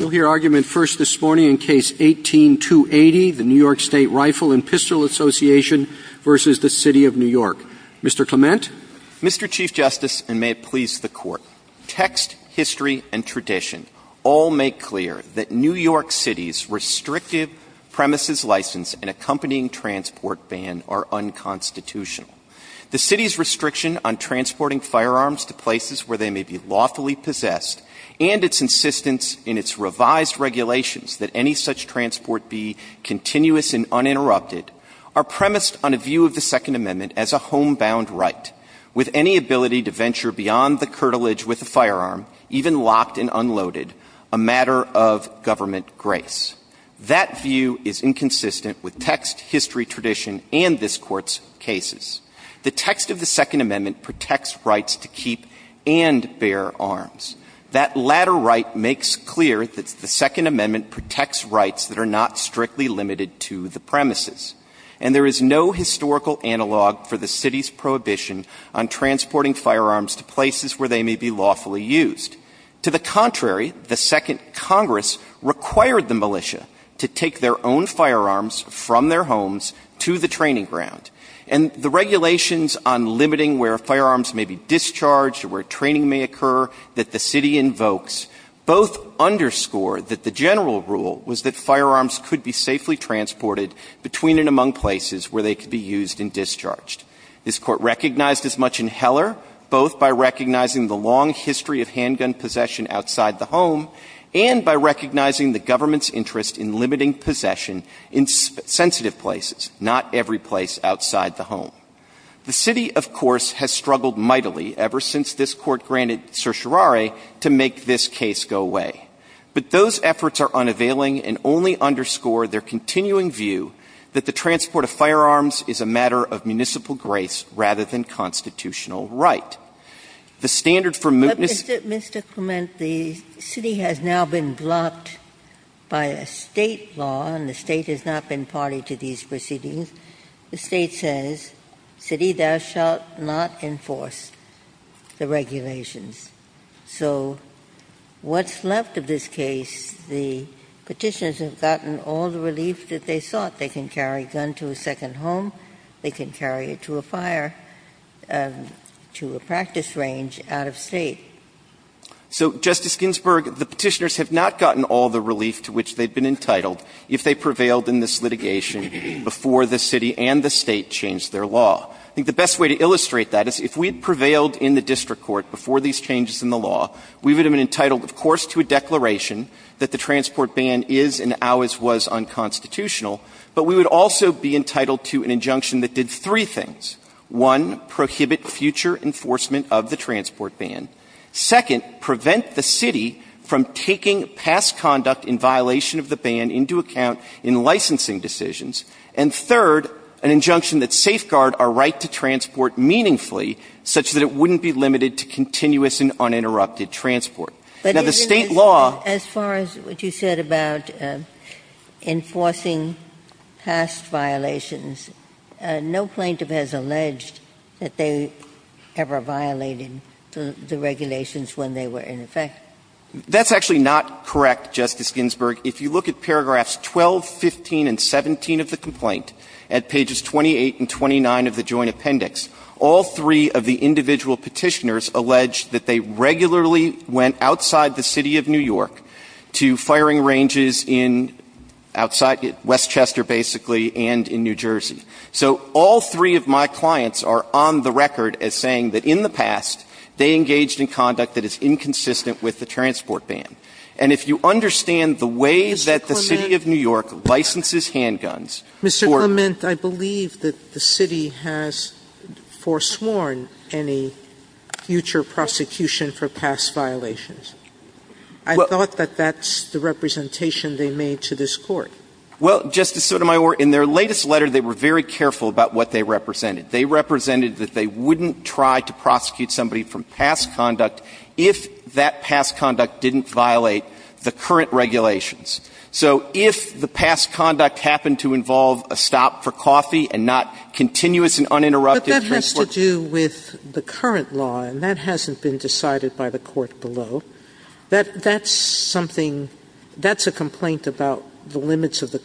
Mr. Clement? Mr. Chief Justice, and may it please the Court, text, history, and tradition all make clear that New York City's restrictive premises license and accompanying transport ban are unconstitutional. The City's restriction on transporting firearms to places where they may be lawfully possessed, and its insistence in its right to enforce revised regulations that any such transport be continuous and uninterrupted are premised on a view of the Second Amendment as a homebound right, with any ability to venture beyond the curtilage with a firearm, even locked and unloaded, a matter of government grace. That view is inconsistent with text, history, tradition, and this That latter right makes clear that the Second Amendment protects rights that are not strictly limited to the premises. And there is no historical analog for the City's prohibition on transporting firearms to places where they may be lawfully used. To the contrary, the Second Congress required the militia to take their own firearms from their homes to the training ground. And the regulations on limiting where firearms may be discharged or where training may occur that the City invokes both underscore that the general rule was that firearms could be safely transported between and among places where they could be used and discharged. This Court recognized as much in Heller, both by recognizing the long history of handgun possession outside the home and by recognizing the government's interest in limiting possession in sensitive places, not every place outside the home. The City, of course, has struggled mightily ever since this Court granted certiorari to make this case go away. But those efforts are unavailing and only underscore their continuing view that the transport of firearms is a matter of municipal grace rather than constitutional right. The standard for mootness ---- Ginsburg. Mr. Clement, the City has now been blocked by a State law, and the State has not been party to these proceedings. The State says, City, thou shalt not enforce the regulations. So what's left of this case, the Petitioners have gotten all the relief that they sought. They can carry a gun to a second home. They can carry it to a fire, to a practice range out of State. Clement. So, Justice Ginsburg, the Petitioners have not gotten all the relief to which they'd been entitled if they prevailed in this litigation before the City and the State changed their law. I think the best way to illustrate that is if we'd prevailed in the district court before these changes in the law, we would have been entitled, of course, to a declaration that the transport ban is and always was unconstitutional, but we would also be entitled to an injunction that did three things. One, prohibit future enforcement of the transport ban. Second, prevent the City from taking past conduct in violation of the ban into account in licensing decisions. And third, an injunction that safeguard our right to transport meaningfully such that it wouldn't be limited to continuous and uninterrupted transport. Now, the State law as far as what you said about enforcing past violations, no plaintiff has alleged that they ever violated the regulations when they were in effect. That's actually not correct, Justice Ginsburg. If you look at paragraphs 12, 15, and 17 of the complaint, at pages 28 and 29 of the Joint Appendix, all three of the individual Petitioners allege that they regularly went outside the City of New York to firing ranges in outside of Westchester, basically, and in New Jersey. So all three of my clients are on the record as saying that in the past, they engaged in conduct that is inconsistent with the transport ban. And if you understand the way that the City of New York licenses handguns for Mr. Clement, I believe that the City has foresworn any future prosecution for past violations. I thought that that's the representation they made to this Court. Well, Justice Sotomayor, in their latest letter, they were very careful about what they represented. They represented that they wouldn't try to prosecute somebody from past conduct if that past conduct didn't violate the current regulations. So if the past conduct happened to involve a stop for coffee and not continuous and uninterrupted transport ban. Sotomayor, but that has to do with the current law, and that hasn't been decided by the Court below. That's something – that's a complaint about the limits of the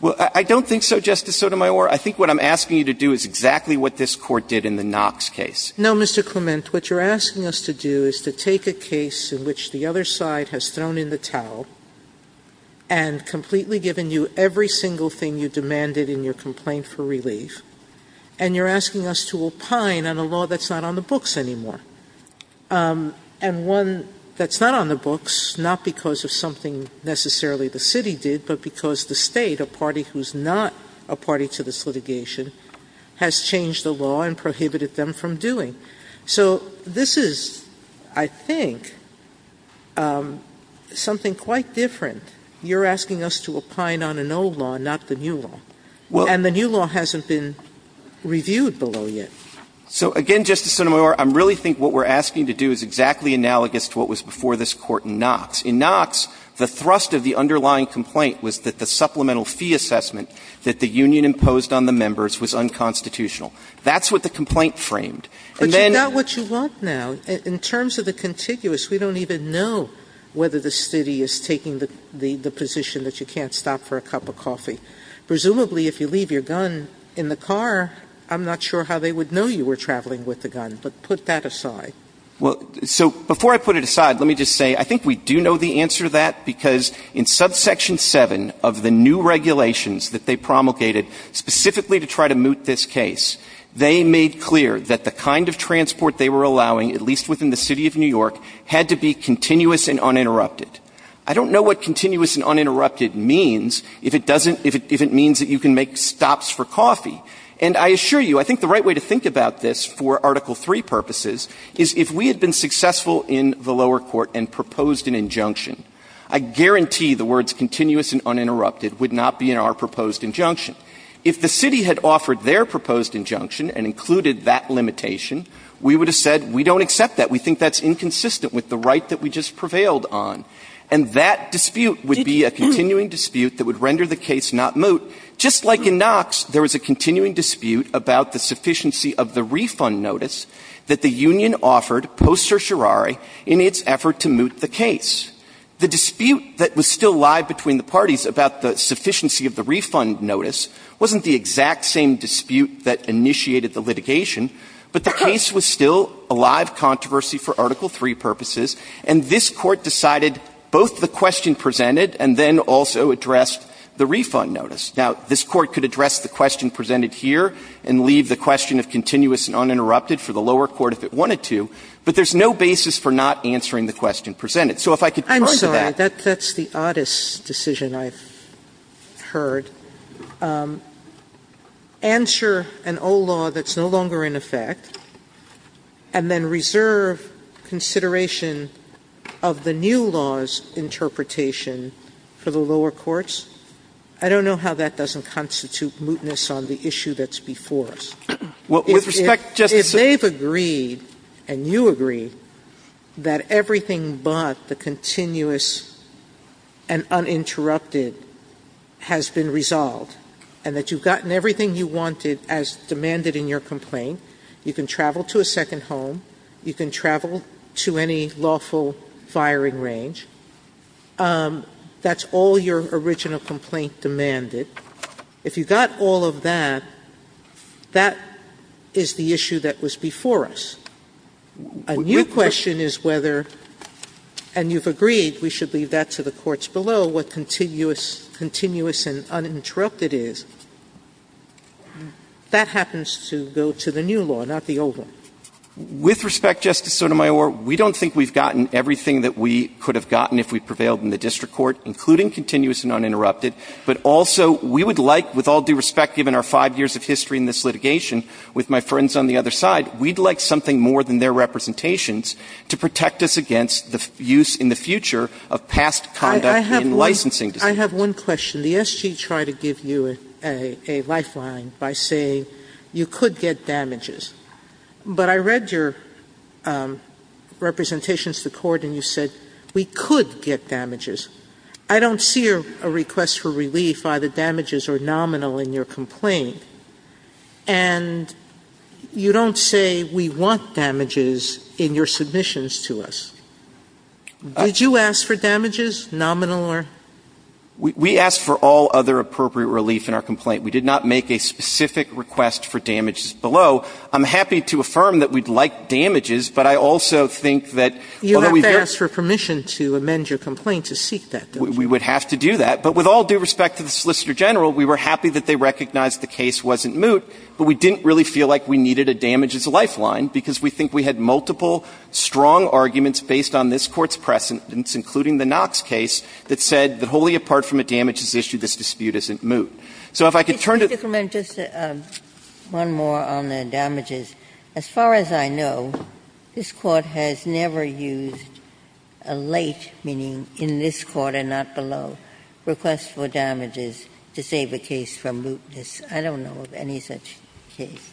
Well, I don't think so, Justice Sotomayor. I think what I'm asking you to do is exactly what this Court did in the Knox case. No, Mr. Clement. What you're asking us to do is to take a case in which the other side has thrown in the towel and completely given you every single thing you demanded in your complaint for relief, and you're asking us to opine on a law that's not on the books anymore, and one that's not on the books, not because of something necessarily the city did, but because the State, a party who's not a party to this litigation, has changed the law and prohibited them from doing. So this is, I think, something quite different. You're asking us to opine on an old law, not the new law. And the new law hasn't been reviewed below yet. So, again, Justice Sotomayor, I really think what we're asking you to do is exactly analogous to what was before this Court in Knox. In Knox, the thrust of the underlying complaint was that the supplemental fee assessment that the union imposed on the members was unconstitutional. That's what the complaint framed. And then you know what you want now. In terms of the contiguous, we don't even know whether the city is taking the position that you can't stop for a cup of coffee. Presumably, if you leave your gun in the car, I'm not sure how they would know you were traveling with the gun. But put that aside. Well, so before I put it aside, let me just say, I think we do know the answer to that because in subsection 7 of the new regulations that they promulgated specifically to try to moot this case, they made clear that the kind of transport they were allowing, at least within the City of New York, had to be continuous and uninterrupted. I don't know what continuous and uninterrupted means if it doesn't – if it means that you can make stops for coffee. And I assure you, I think the right way to think about this for Article III purposes is if we had been successful in the lower court and proposed an injunction, I guarantee the words continuous and uninterrupted would not be in our proposed injunction. If the city had offered their proposed injunction and included that limitation, we would have said we don't accept that. We think that's inconsistent with the right that we just prevailed on. And that dispute would be a continuing dispute that would render the case not moot, just like in Knox there was a continuing dispute about the sufficiency of the refund notice that the union offered post certiorari in its effort to moot the case. The dispute that was still live between the parties about the sufficiency of the refund notice wasn't the exact same dispute that initiated the litigation, but the case was still a live controversy for Article III purposes, and this Court decided both the question presented and then also addressed the refund notice. Now, this Court could address the question presented here and leave the question of continuous and uninterrupted for the lower court if it wanted to, but there's no basis for not answering the question presented. So if I could go into that. Sotomayor, I'm sorry. That's the oddest decision I've heard. Answer an old law that's no longer in effect and then reserve consideration of the new law's interpretation for the lower courts? I don't know how that doesn't constitute mootness on the issue that's before us. If they've agreed, and you agree, that everything but the continuous and uninterrupted has been resolved and that you've gotten everything you wanted as demanded in your complaint, you can travel to a second home, you can travel to any lawful firing range, that's all your original complaint demanded. If you got all of that, that is the issue that was before us. A new question is whether, and you've agreed, we should leave that to the courts below, what continuous and uninterrupted is. That happens to go to the new law, not the old one. With respect, Justice Sotomayor, we don't think we've gotten everything that we could have gotten if we prevailed in the district court, including continuous and uninterrupted. But also, we would like, with all due respect, given our five years of history in this litigation with my friends on the other side, we'd like something more than their representations to protect us against the use in the future of past conduct in licensing disputes. I have one question. The SG tried to give you a lifeline by saying you could get damages. But I read your representations to court and you said we could get damages. I don't see a request for relief, either damages or nominal, in your complaint. And you don't say we want damages in your submissions to us. Did you ask for damages, nominal or? We asked for all other appropriate relief in our complaint. We did not make a specific request for damages below. I'm happy to affirm that we'd like damages, but I also think that, although we've got. You have to ask for permission to amend your complaint to seek that, don't you? We would have to do that. But with all due respect to the Solicitor General, we were happy that they recognized the case wasn't moot, but we didn't really feel like we needed a damages lifeline because we think we had multiple strong arguments based on this Court's precedence, including the Knox case, that said that wholly apart from a damages issue, this dispute isn't moot. So if I could turn to. Just one more on the damages. As far as I know, this Court has never used a late, meaning in this Court and not below, request for damages to save a case from mootness. I don't know of any such case.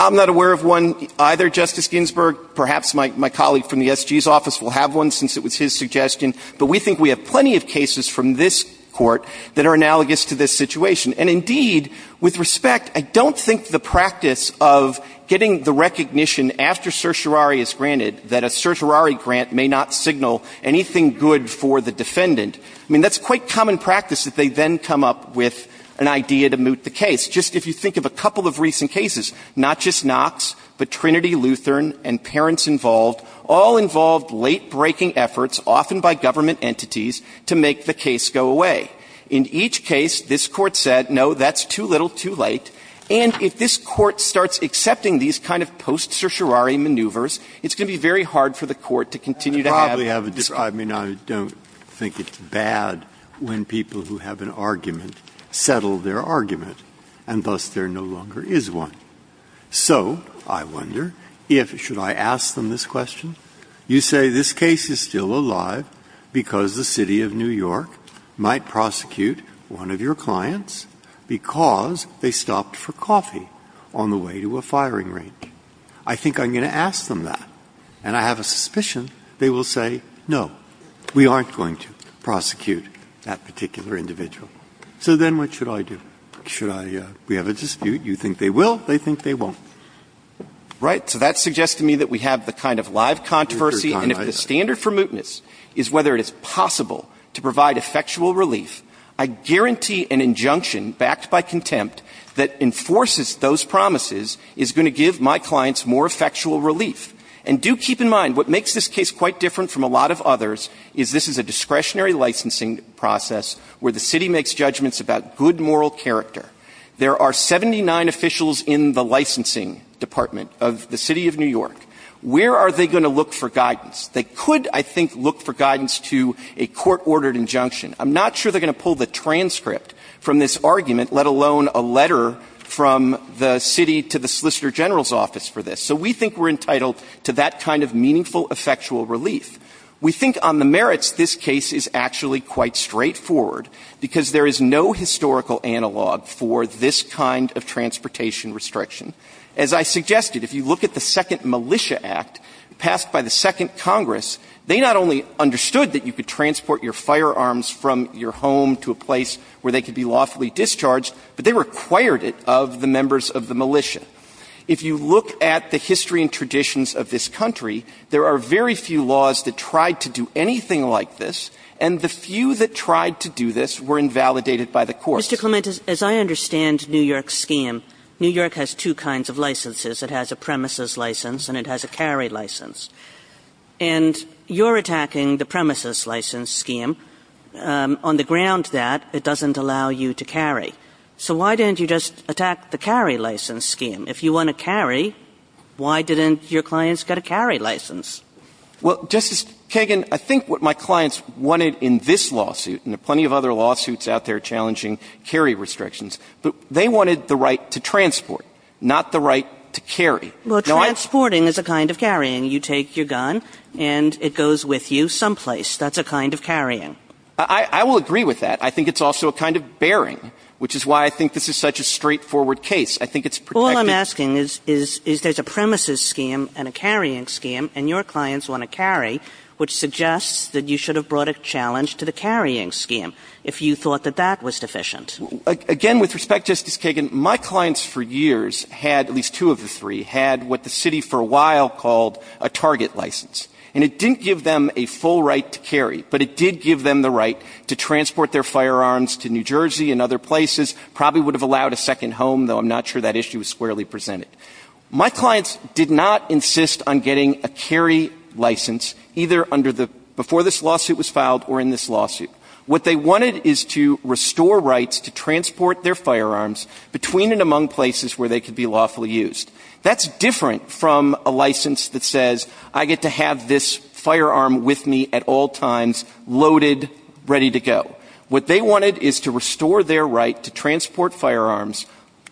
I'm not aware of one either, Justice Ginsburg. Perhaps my colleague from the SG's office will have one, since it was his suggestion. But we think we have plenty of cases from this Court that are analogous to this case. Indeed, with respect, I don't think the practice of getting the recognition after certiorari is granted that a certiorari grant may not signal anything good for the defendant, I mean, that's quite common practice that they then come up with an idea to moot the case. Just if you think of a couple of recent cases, not just Knox, but Trinity, Lutheran and parents involved, all involved late-breaking efforts, often by government entities, to make the case go away. In each case, this Court said, no, that's too little, too late. And if this Court starts accepting these kind of post-certiorari maneuvers, it's going to be very hard for the Court to continue to have this. Breyer. I mean, I don't think it's bad when people who have an argument settle their argument, and thus there no longer is one. So I wonder if, should I ask them this question? You say this case is still alive because the City of New York might prosecute one of your clients because they stopped for coffee on the way to a firing range. I think I'm going to ask them that, and I have a suspicion they will say, no, we aren't going to prosecute that particular individual. So then what should I do? Should I – we have a dispute. You think they will. They think they won't. Right. So that suggests to me that we have the kind of live controversy. And if the standard for mootness is whether it is possible to provide effectual relief, I guarantee an injunction backed by contempt that enforces those promises is going to give my clients more effectual relief. And do keep in mind, what makes this case quite different from a lot of others is this is a discretionary licensing process where the City makes judgments about good moral character. There are 79 officials in the licensing department of the City of New York. Where are they going to look for guidance? They could, I think, look for guidance to a court-ordered injunction. I'm not sure they're going to pull the transcript from this argument, let alone a letter from the City to the Solicitor General's office for this. So we think we're entitled to that kind of meaningful effectual relief. We think on the merits, this case is actually quite straightforward because there is no historical analog for this kind of transportation restriction. As I suggested, if you look at the Second Militia Act passed by the Second Congress, they not only understood that you could transport your firearms from your home to a place where they could be lawfully discharged, but they required it of the members of the militia. If you look at the history and traditions of this country, there are very few laws that tried to do anything like this, and the few that tried to do this were invalidated by the courts. Kagan. Mr. Clement, as I understand New York's scheme, New York has two kinds of licenses. It has a premises license and it has a carry license. And you're attacking the premises license scheme on the ground that it doesn't allow you to carry. So why didn't you just attack the carry license scheme? If you want to carry, why didn't your clients get a carry license? Well, Justice Kagan, I think what my clients wanted in this lawsuit, and there are plenty of other lawsuits out there challenging carry restrictions, but they wanted the right to transport, not the right to carry. Well, transporting is a kind of carrying. You take your gun and it goes with you someplace. That's a kind of carrying. I will agree with that. I think it's also a kind of bearing, which is why I think this is such a straightforward I think it's protected. All I'm asking is there's a premises scheme and a carrying scheme and your clients want to carry, which suggests that you should have brought a challenge to the carrying scheme if you thought that that was deficient. Again, with respect, Justice Kagan, my clients for years had, at least two of the three, had what the city for a while called a target license. And it didn't give them a full right to carry, but it did give them the right to transport their firearms to New Jersey and other places, probably would have allowed a second home, though I'm not sure that issue was squarely presented. My clients did not insist on getting a carry license, either under the before this lawsuit was filed or in this lawsuit. What they wanted is to restore rights to transport their firearms between and among places where they could be lawfully used. That's different from a license that says I get to have this firearm with me at all times, loaded, ready to go. What they wanted is to restore their right to transport firearms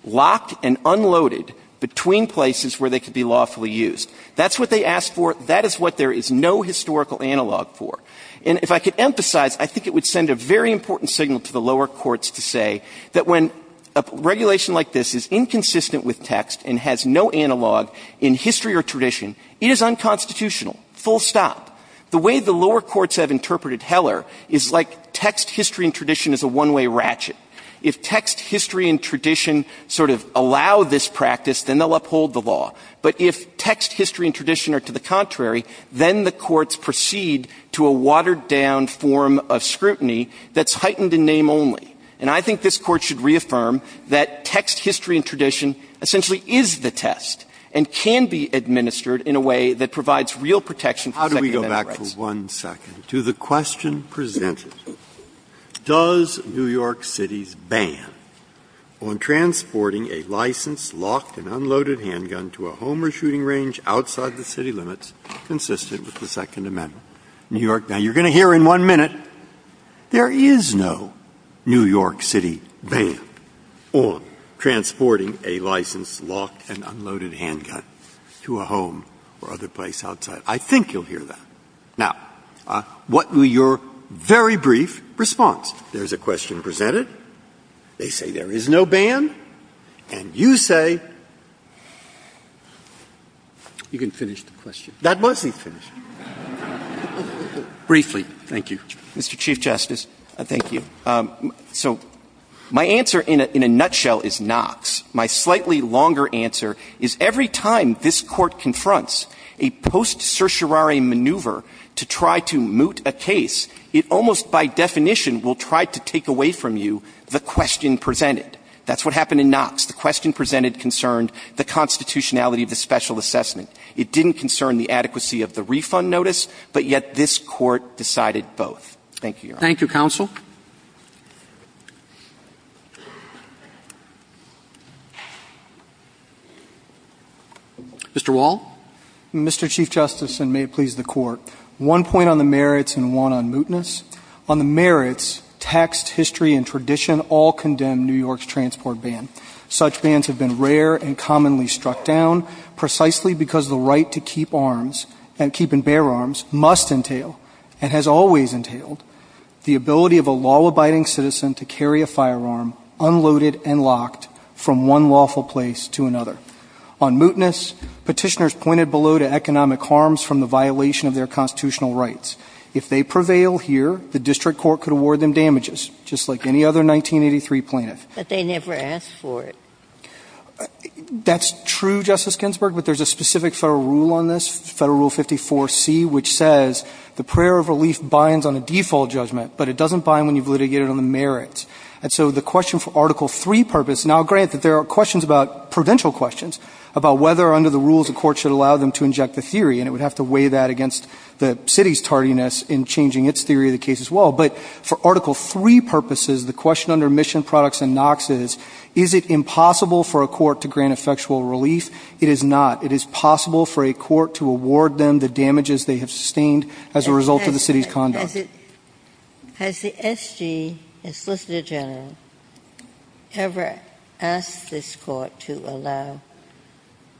locked and unloaded between places where they could be lawfully used. That's what they asked for. That is what there is no historical analog for. And if I could emphasize, I think it would send a very important signal to the lower courts to say that when a regulation like this is inconsistent with text and has no analog in history or tradition, it is unconstitutional, full stop. The way the lower courts have interpreted Heller is like text, history, and tradition is a one-way ratchet. If text, history, and tradition sort of allow this practice, then they'll uphold the law. But if text, history, and tradition are to the contrary, then the courts proceed to a watered-down form of scrutiny that's heightened in name only. And I think this Court should reaffirm that text, history, and tradition essentially is the test and can be administered in a way that provides real protection for Second Amendment rights. Breyer. How do we go back for one second to the question presented? Does New York City's ban on transporting a licensed, locked, and unloaded handgun to a home or shooting range outside the city limits consistent with the Second Amendment? Now, you're going to hear in one minute there is no New York City ban on transporting a licensed, locked, and unloaded handgun to a home or other place outside. I think you'll hear that. Now, what will your very brief response? There's a question presented. They say there is no ban. And you say you can finish the question. That wasn't finished. Briefly. Thank you. Mr. Chief Justice, thank you. So my answer in a nutshell is Knox. My slightly longer answer is every time this Court confronts a post certiorari maneuver to try to moot a case, it almost by definition will try to take away from you the question presented. That's what happened in Knox. The question presented concerned the constitutionality of the special assessment. It didn't concern the adequacy of the refund notice, but yet this Court decided both. Thank you, Your Honor. Thank you, counsel. Mr. Wall. Mr. Chief Justice, and may it please the Court, one point on the merits and one on mootness. On the merits, text, history, and tradition all condemn New York's transport ban. Such bans have been rare and commonly struck down precisely because the right to keep arms and keeping bear arms must entail and has always entailed the ability of a law-abiding citizen to carry a firearm unloaded and locked from one lawful place to another. On mootness, Petitioners pointed below to economic harms from the violation of their constitutional rights. If they prevail here, the district court could award them damages, just like any other 1983 plaintiff. But they never asked for it. That's true, Justice Ginsburg, but there's a specific Federal rule on this, Federal Rule 54C, which says the prayer of relief binds on a default judgment, but it doesn't bind when you've litigated on the merits. And so the question for Article III purpose, now grant that there are questions about, prudential questions, about whether under the rules a court should allow them to inject the theory, and it would have to weigh that against the city's tardiness in changing its theory of the case as well, but for Article III purposes, the question under Mission Products and Knox is, is it impossible for a court to grant effectual relief? It is not. It is possible for a court to award them the damages they have sustained as a result of the city's conduct. Has the SG, the Solicitor General, ever asked this Court to allow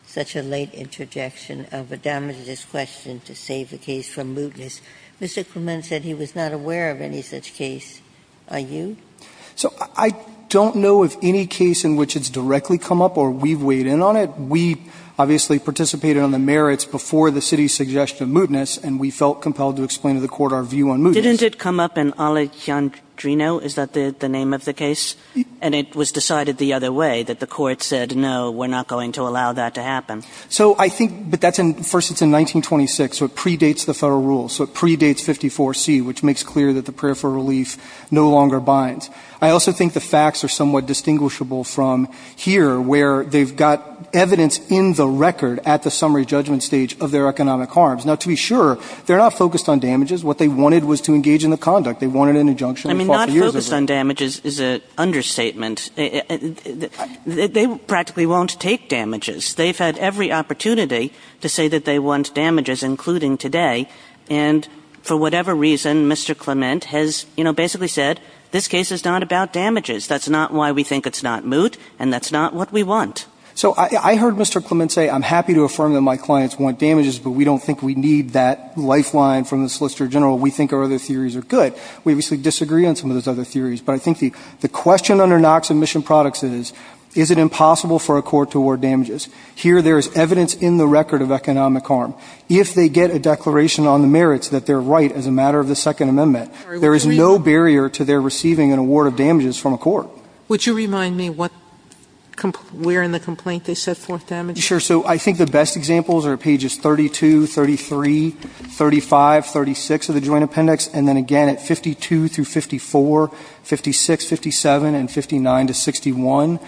such a late interjection of a damaging question to save the case from mootness? Mr. Clement said he was not aware of any such case. Are you? So I don't know of any case in which it's directly come up or we've weighed in on it. We obviously participated on the merits before the city's suggestion of mootness, and we felt compelled to explain to the Court our view on mootness. Didn't it come up in Alejandro? Is that the name of the case? And it was decided the other way, that the Court said, no, we're not going to allow that to happen. So I think, but that's in, first it's in 1926, so it predates the Federal Rule. So it predates 54C, which makes clear that the prayer for relief no longer binds. I also think the facts are somewhat distinguishable from here where they've got evidence in the record at the summary judgment stage of their economic harms. Now, to be sure, they're not focused on damages. What they wanted was to engage in the conduct. They wanted an injunction. I mean, not focused on damages is an understatement. They practically won't take damages. They've had every opportunity to say that they want damages, including today. And for whatever reason, Mr. Clement has, you know, basically said, this case is not about damages. That's not why we think it's not moot, and that's not what we want. So I heard Mr. Clement say, I'm happy to affirm that my clients want damages, but we don't think we need that lifeline from the Solicitor General. We think our other theories are good. We obviously disagree on some of those other theories. But I think the question under Knox and Mission Products is, is it impossible for a court to award damages? Here, there is evidence in the record of economic harm. If they get a declaration on the merits that they're right as a matter of the Second Amendment, there is no barrier to their receiving an award of damages from a court. Would you remind me what – where in the complaint they set forth damages? Sure. So I think the best examples are pages 32, 33, 35, 36 of the Joint Appendix, and then again at 52 through 54, 56, 57, and 59 to 61.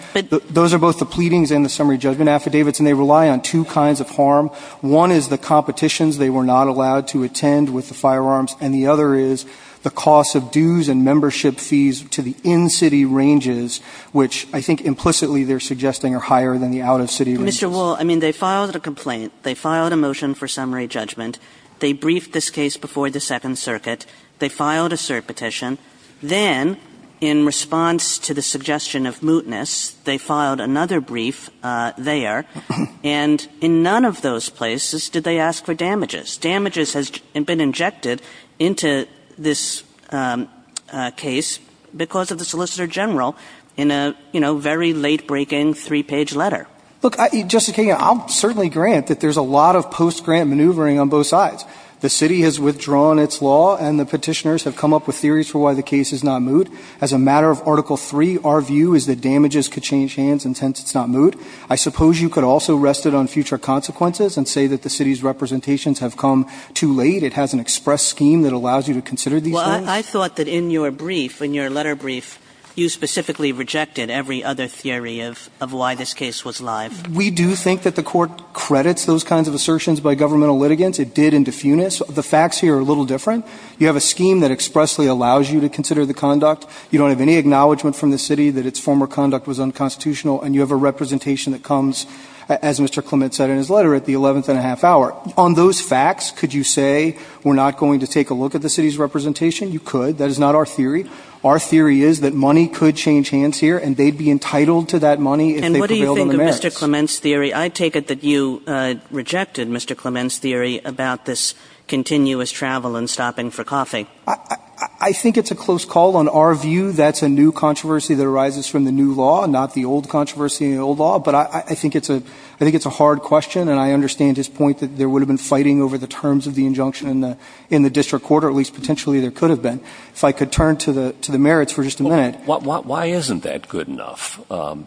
Those are both the pleadings and the summary judgment affidavits, and they rely on two kinds of harm. One is the competitions they were not allowed to attend with the firearms, and the other is the cost of dues and membership fees to the in-city ranges, which I think implicitly they're suggesting are higher than the out-of-city ranges. Mr. Wall, I mean, they filed a complaint. They filed a motion for summary judgment. They briefed this case before the Second Circuit. They filed a cert petition. Then, in response to the suggestion of mootness, they filed another brief there, and in none of those places did they ask for damages. Damages have been injected into this case because of the Solicitor General in a, you know, very late-breaking three-page letter. Look, Justice Kagan, I'll certainly grant that there's a lot of post-grant maneuvering on both sides. The city has withdrawn its law, and the petitioners have come up with theories for why the case is not moot. As a matter of Article III, our view is that damages could change hands, and since it's not moot, I suppose you could also rest it on future consequences and say that the city's representations have come too late. It has an express scheme that allows you to consider these things. Well, I thought that in your brief, in your letter brief, you specifically rejected every other theory of why this case was live. We do think that the Court credits those kinds of assertions by governmental litigants. It did in defunus. The facts here are a little different. You have a scheme that expressly allows you to consider the conduct. You don't have any acknowledgment from the city that its former conduct was unconstitutional, and you have a representation that comes, as Mr. Clement said in his letter, at the 11th and a half hour. On those facts, could you say we're not going to take a look at the city's representation? You could. That is not our theory. Our theory is that money could change hands here, and they'd be entitled to that money if they prevailed on the merits. And what do you think of Mr. Clement's theory? I take it that you rejected Mr. Clement's theory about this continuous travel and stopping for coffee. I think it's a close call. On our view, that's a new controversy that arises from the new law, not the old controversy in the old law. But I think it's a hard question, and I understand his point that there would have been fighting over the terms of the injunction in the district court, or at least potentially there could have been. If I could turn to the merits for just a minute. Why isn't that good enough?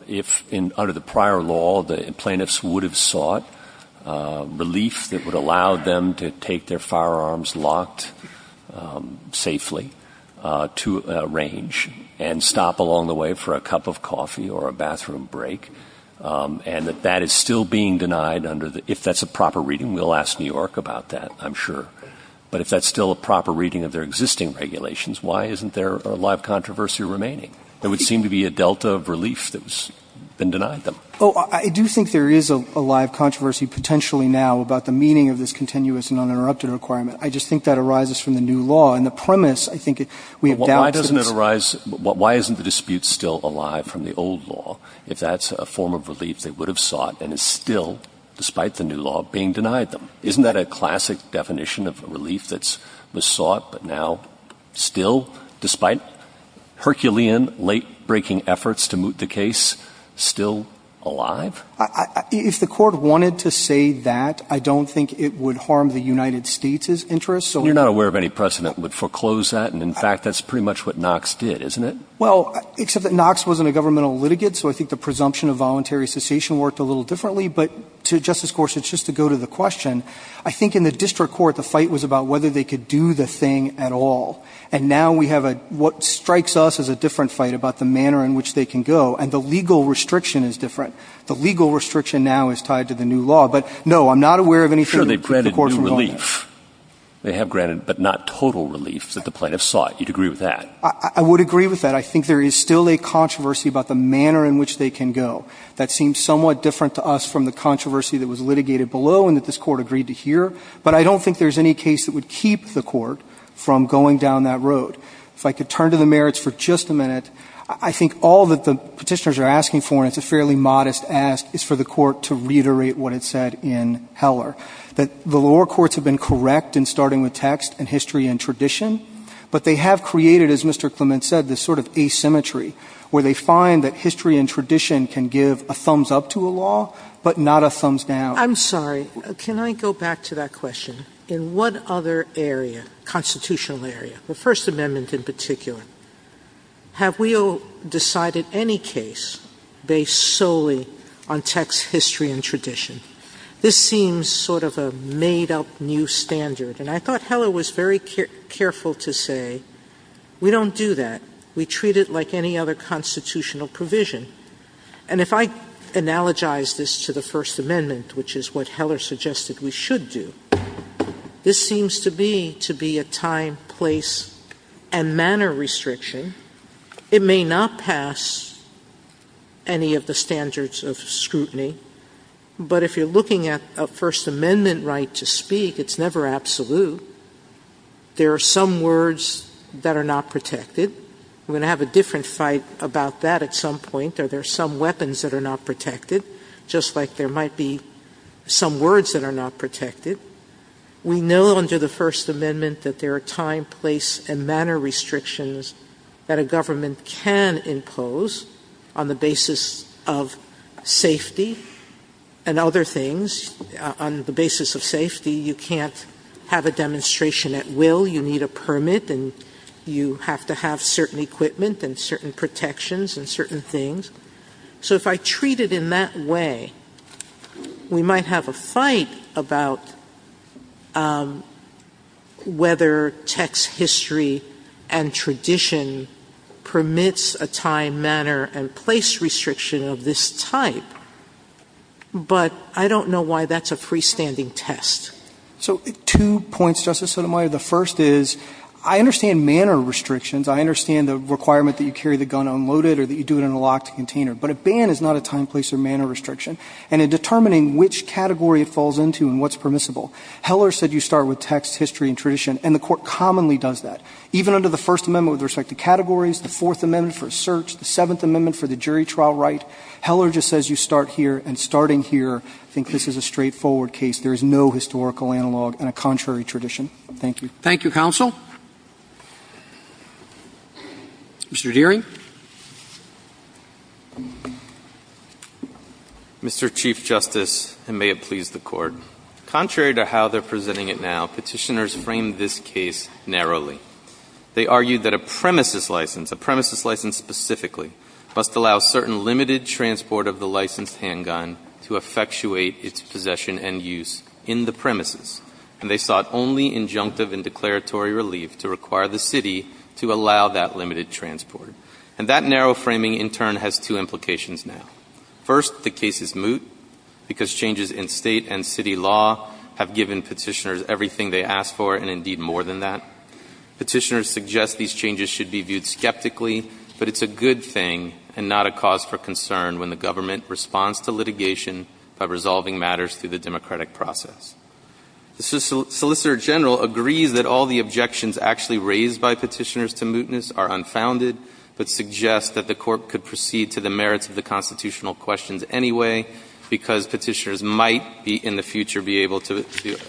If under the prior law, the plaintiffs would have sought relief that would allow them to take their firearms locked safely to a range and stop along the way for a cup of coffee or a bathroom break, and that that is still being denied under the ‑‑ if that's a proper reading. We'll ask New York about that, I'm sure. But if that's still a proper reading of their existing regulations, why isn't there a live controversy remaining? There would seem to be a delta of relief that's been denied them. Oh, I do think there is a live controversy potentially now about the meaning of this continuous and uninterrupted requirement. I just think that arises from the new law. And the premise, I think, we have doubts that it's ‑‑ But why doesn't it arise ‑‑ why isn't the dispute still alive from the old law if that's a form of relief they would have sought and is still, despite the new law, being denied them? Isn't that a classic definition of relief that was sought but now still, despite Herculean late‑breaking efforts to moot the case, still alive? If the court wanted to say that, I don't think it would harm the United States' interests. You're not aware of any precedent would foreclose that, and in fact, that's pretty much what Knox did, isn't it? Well, except that Knox was in a governmental litigate, so I think the presumption of voluntary cessation worked a little differently. But to Justice Gorsuch, just to go to the question, I think in the district court the fight was about whether they could do the thing at all. And now we have what strikes us as a different fight about the manner in which they can go, and the legal restriction is different. The legal restriction now is tied to the new law. But, no, I'm not aware of anything that the court has done. Sure, they've granted new relief. They have granted, but not total relief that the plaintiffs sought. You'd agree with that? I would agree with that. I think there is still a controversy about the manner in which they can go. That seems somewhat different to us from the controversy that was litigated below and that this Court agreed to hear. But I don't think there's any case that would keep the Court from going down that road. If I could turn to the merits for just a minute, I think all that the petitioners are asking for, and it's a fairly modest ask, is for the Court to reiterate what it said in Heller, that the lower courts have been correct in starting with text and history and tradition. But they have created, as Mr. Clement said, this sort of asymmetry where they find that history and tradition can give a thumbs-up to a law, but not a thumbs-down. I'm sorry. Can I go back to that question? In what other area, constitutional area, the First Amendment in particular, have we decided any case based solely on text, history, and tradition? This seems sort of a made-up new standard. And I thought Heller was very careful to say, we don't do that. We treat it like any other constitutional provision. And if I analogize this to the First Amendment, which is what Heller suggested we should do, this seems to be a time, place, and manner restriction. It may not pass any of the standards of scrutiny. But if you're looking at a First Amendment right to speak, it's never absolute. There are some words that are not protected. We're going to have a different fight about that at some point. Are there some weapons that are not protected, just like there might be some words that are not protected? We know under the First Amendment that there are time, place, and manner restrictions that a government can impose on the basis of safety and other things. On the basis of safety, you can't have a demonstration at will. You need a permit, and you have to have certain equipment and certain protections and certain things. So if I treat it in that way, we might have a fight about whether text history and tradition permits a time, manner, and place restriction of this type. But I don't know why that's a freestanding test. So two points, Justice Sotomayor. The first is, I understand manner restrictions. I understand the requirement that you carry the gun unloaded or that you do it in a container. But a ban is not a time, place, or manner restriction. And in determining which category it falls into and what's permissible, Heller said you start with text, history, and tradition. And the Court commonly does that. Even under the First Amendment with respect to categories, the Fourth Amendment for a search, the Seventh Amendment for the jury trial right, Heller just says you start here. And starting here, I think this is a straightforward case. There is no historical analog and a contrary tradition. Thank you. Thank you, counsel. Mr. Dearing. Mr. Chief Justice, and may it please the Court. Contrary to how they're presenting it now, Petitioners frame this case narrowly. They argue that a premises license, a premises license specifically, must allow certain limited transport of the licensed handgun to effectuate its possession and use in the premises. And they sought only injunctive and declaratory relief to require the city to allow that limited transport. And that narrow framing, in turn, has two implications now. First, the case is moot because changes in state and city law have given Petitioners everything they asked for and, indeed, more than that. Petitioners suggest these changes should be viewed skeptically, but it's a good thing and not a cause for concern when the government responds to litigation by resolving matters through the democratic process. The Solicitor General agrees that all the objections actually raised by Petitioners to mootness are unfounded, but suggests that the Court could proceed to the merits of the constitutional questions anyway because Petitioners might be, in the future, be able to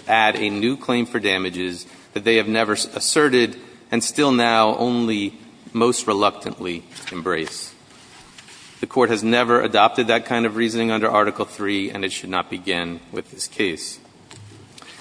add a new claim for damages that they have never asserted and still now only most reluctantly embrace. The Court has never adopted that kind of reasoning under Article III, and it should not begin with this case.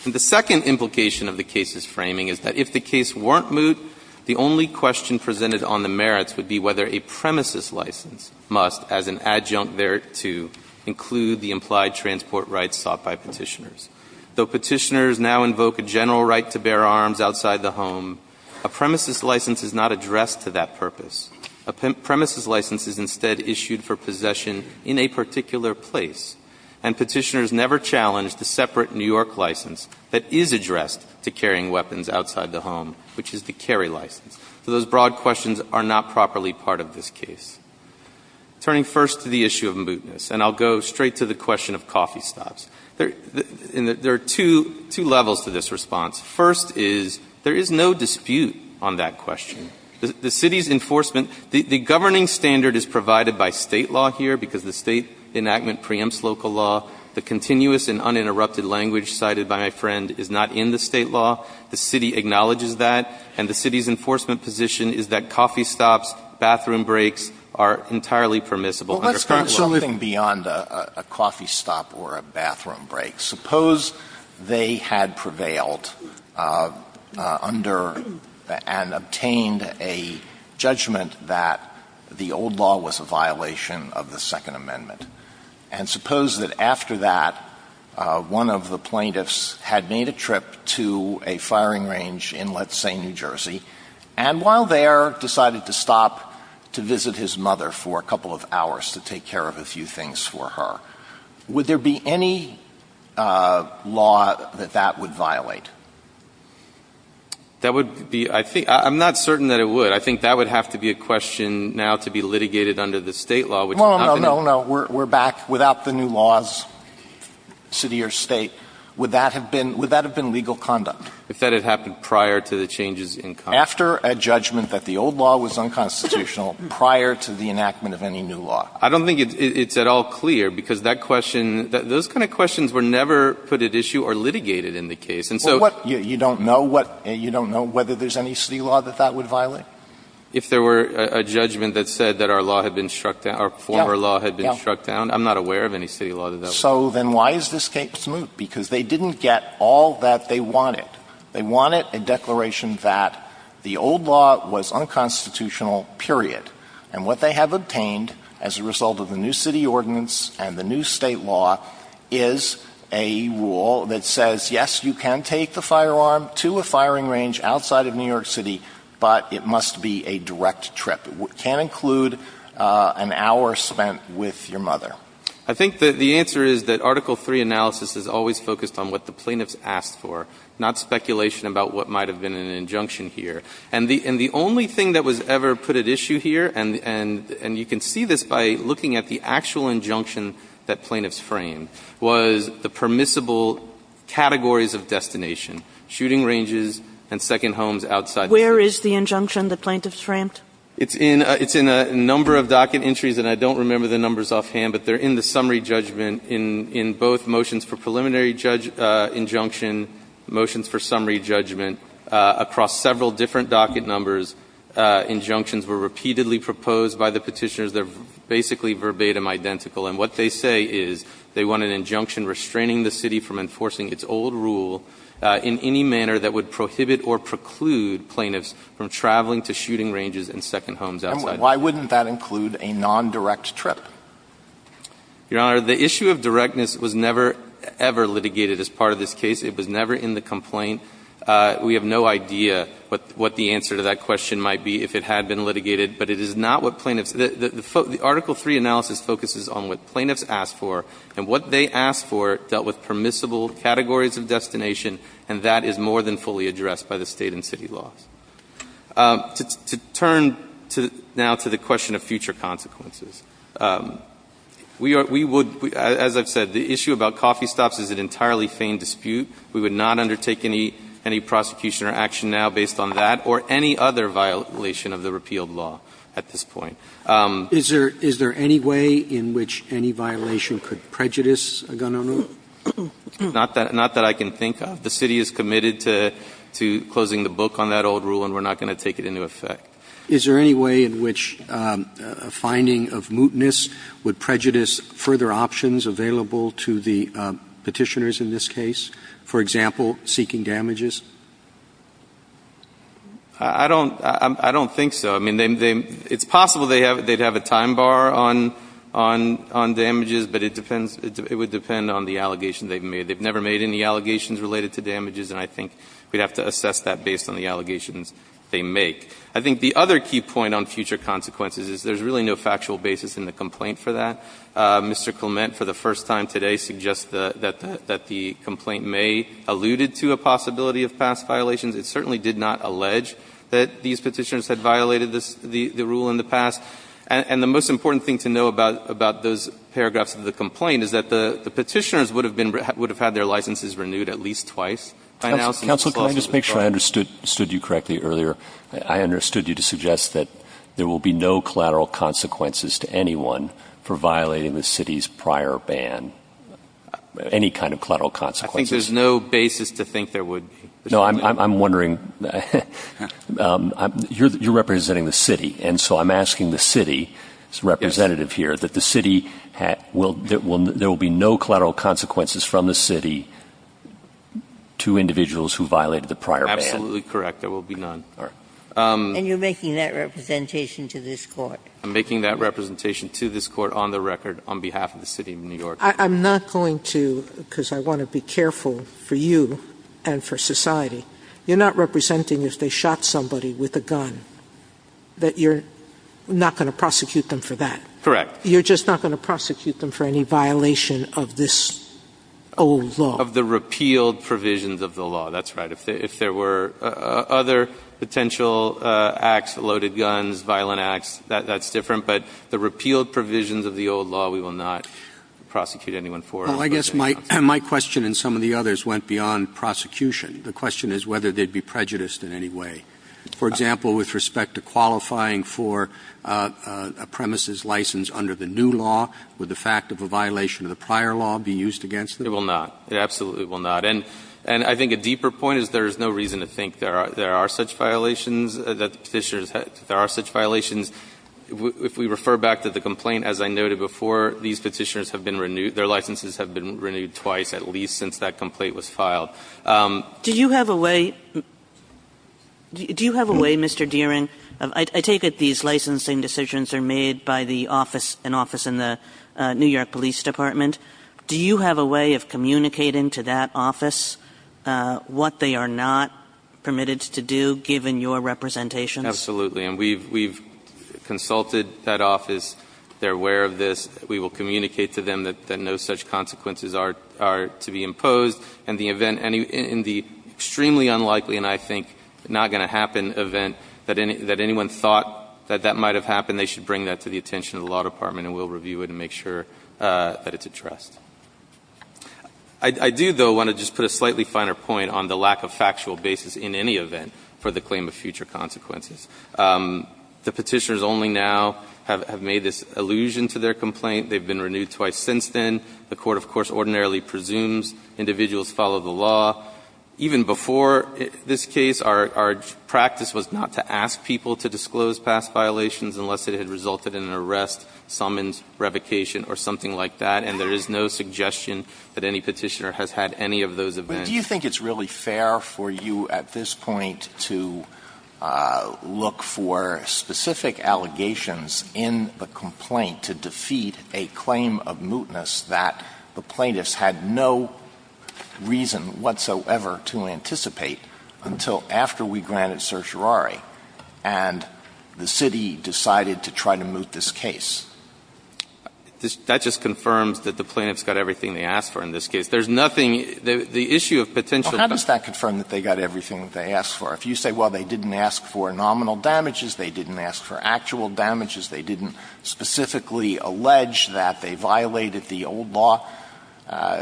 And the second implication of the case's framing is that if the case weren't moot, the only question presented on the merits would be whether a premises license must, as an adjunct thereto, include the implied transport rights sought by Petitioners. Though Petitioners now invoke a general right to bear arms outside the home, a premises license is not addressed to that purpose. A premises license is instead issued for possession in a particular place. And Petitioners never challenge the separate New York license that is addressed to carrying weapons outside the home, which is the carry license. So those broad questions are not properly part of this case. Turning first to the issue of mootness, and I'll go straight to the question of coffee stops. There are two levels to this response. First is there is no dispute on that question. The city's enforcement, the governing standard is provided by State law here because the State enactment preempts local law. The continuous and uninterrupted language cited by my friend is not in the State law. The city acknowledges that, and the city's enforcement position is that coffee stops, bathroom breaks are entirely permissible under current law. Alitono, Jr. Well, let's go something beyond a coffee stop or a bathroom break. Suppose they had prevailed under and obtained a judgment that the old law was a violation of the Second Amendment. And suppose that after that, one of the plaintiffs had made a trip to a firing range in, let's say, New Jersey, and while there, decided to stop to visit his mother for a couple of hours to take care of a few things for her. Would there be any law that that would violate? That would be — I think — I'm not certain that it would. I think that would have to be a question now to be litigated under the State law, which has not been. Alitono, Jr. Well, no, no, no. We're back without the new laws, city or State. Would that have been — would that have been legal conduct? If that had happened prior to the changes in Congress. After a judgment that the old law was unconstitutional, prior to the enactment of any new law. I don't think it's at all clear, because that question — those kind of questions were never put at issue or litigated in the case, and so — You don't know what — you don't know whether there's any City law that that would violate? If there were a judgment that said that our law had been struck down — our former law had been struck down, I'm not aware of any City law that that would violate. So then why is this case moot? Because they didn't get all that they wanted. They wanted a declaration that the old law was unconstitutional, period, and what they have obtained as a result of the new City ordinance and the new State law is a firearm to a firing range outside of New York City, but it must be a direct trip. It can include an hour spent with your mother. I think that the answer is that Article III analysis is always focused on what the plaintiffs asked for, not speculation about what might have been an injunction here. And the only thing that was ever put at issue here, and you can see this by looking at the actual injunction that plaintiffs framed, was the permissible categories of destination — shooting ranges and second homes outside the City. Where is the injunction the plaintiffs framed? It's in a number of docket entries, and I don't remember the numbers offhand, but they're in the summary judgment in both motions for preliminary injunction, motions for summary judgment. Across several different docket numbers, injunctions were repeatedly proposed by the petitioners. They're basically verbatim identical. And what they say is they want an injunction restraining the City from enforcing its old rule in any manner that would prohibit or preclude plaintiffs from traveling to shooting ranges and second homes outside the City. And why wouldn't that include a nondirect trip? Your Honor, the issue of directness was never, ever litigated as part of this case. It was never in the complaint. We have no idea what the answer to that question might be if it had been litigated, but it is not what plaintiffs — the Article III analysis focuses on what plaintiffs asked for, and what they asked for dealt with permissible categories of destination, and that is more than fully addressed by the State and City laws. To turn now to the question of future consequences, we would — as I've said, the issue about coffee stops is an entirely feigned dispute. We would not undertake any prosecution or action now based on that or any other violation of the repealed law at this point. Is there any way in which any violation could prejudice a gun owner? Not that I can think of. The City is committed to closing the book on that old rule, and we're not going to take it into effect. Is there any way in which a finding of mootness would prejudice further options available to the Petitioners in this case, for example, seeking damages? I don't think so. I mean, they — it's possible they'd have a time bar on damages, but it depends — it would depend on the allegations they've made. They've never made any allegations related to damages, and I think we'd have to assess that based on the allegations they make. I think the other key point on future consequences is there's really no factual basis in the complaint for that. Mr. Clement, for the first time today, suggests that the complaint may have alluded to a possibility of past violations. It certainly did not allege that these Petitioners had violated the rule in the past. And the most important thing to know about those paragraphs of the complaint is that the Petitioners would have been — would have had their licenses renewed at least twice. By now, since this lawsuit is closed. Counsel, can I just make sure I understood you correctly earlier? I understood you to suggest that there will be no collateral consequences to anyone for violating the City's prior ban, any kind of collateral consequences. I think there's no basis to think there would be. No, I'm wondering — you're representing the City, and so I'm asking the City representative here that the City — there will be no collateral consequences from the City to individuals who violated the prior ban. Absolutely correct. There will be none. And you're making that representation to this Court? I'm making that representation to this Court on the record on behalf of the City of New York. I'm not going to — because I want to be careful for you and for society. You're not representing if they shot somebody with a gun, that you're not going to prosecute them for that? Correct. You're just not going to prosecute them for any violation of this old law? Of the repealed provisions of the law. That's right. If there were other potential acts, loaded guns, violent acts, that's different. But the repealed provisions of the old law, we will not prosecute anyone for. Well, I guess my question and some of the others went beyond prosecution. The question is whether they'd be prejudiced in any way. For example, with respect to qualifying for a premises license under the new law, would the fact of a violation of the prior law be used against them? It will not. It absolutely will not. And I think a deeper point is there is no reason to think there are such violations that Petitioners — there are such violations. If we refer back to the complaint, as I noted before, these Petitioners have been renewed — their licenses have been renewed twice, at least, since that complaint was filed. Do you have a way — do you have a way, Mr. Deering — I take it these licensing decisions are made by the office — an office in the New York Police Department. Do you have a way of communicating to that office what they are not permitted to do, given your representation? Absolutely. And we've — we've consulted that office. They're aware of this. We will communicate to them that no such consequences are — are to be imposed. And the event — in the extremely unlikely and I think not going to happen event that anyone thought that that might have happened, they should bring that to the attention of the law department and we'll review it and make sure that it's addressed. I do, though, want to just put a slightly finer point on the lack of factual basis in any event for the claim of future consequences. The Petitioners only now have made this allusion to their complaint. They've been renewed twice since then. The Court, of course, ordinarily presumes individuals follow the law. Even before this case, our — our practice was not to ask people to disclose past violations unless it had resulted in an arrest, summons, revocation, or something like that, and there is no suggestion that any Petitioner has had any of those events. Alito, do you think it's really fair for you at this point to look for specific allegations in the complaint to defeat a claim of mootness that the plaintiffs had no reason whatsoever to anticipate until after we granted certiorari and the city decided to try to moot this case? That just confirms that the plaintiffs got everything they asked for in this case. There's nothing — the issue of potential— Alito, how does that confirm that they got everything that they asked for? If you say, well, they didn't ask for nominal damages, they didn't ask for actual damages, they didn't specifically allege that they violated the old law,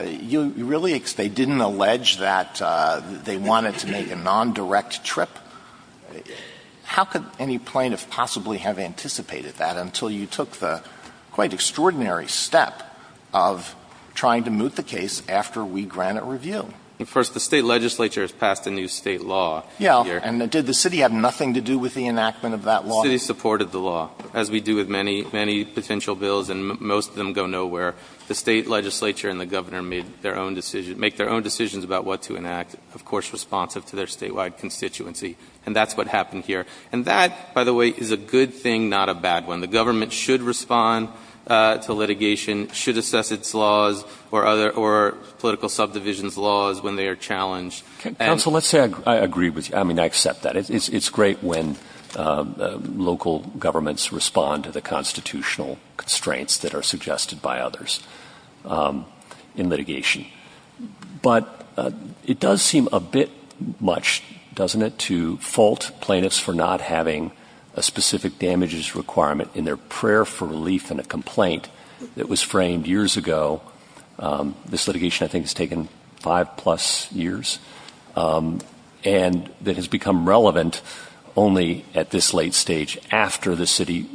you really — they didn't allege that they wanted to make a nondirect trip? How could any plaintiff possibly have anticipated that until you took the quite extraordinary step of trying to moot the case after we grant it review? First, the State legislature has passed a new State law. Yes. And did the city have nothing to do with the enactment of that law? The city supported the law, as we do with many, many potential bills, and most of them go nowhere. The State legislature and the Governor made their own decisions — make their own decisions about what to enact, of course responsive to their statewide constituency. And that's what happened here. And that, by the way, is a good thing, not a bad one. The government should respond to litigation, should assess its laws or other — or political subdivisions' laws when they are challenged. And — Counsel, let's say I agree with you. I mean, I accept that. It's great when local governments respond to the constitutional constraints that are suggested by others in litigation. But it does seem a bit much, doesn't it, to fault plaintiffs for not having a specific damages requirement in their prayer for relief in a complaint that was framed years ago — this litigation, I think, has taken five-plus years — and that has become relevant only at this late stage after the city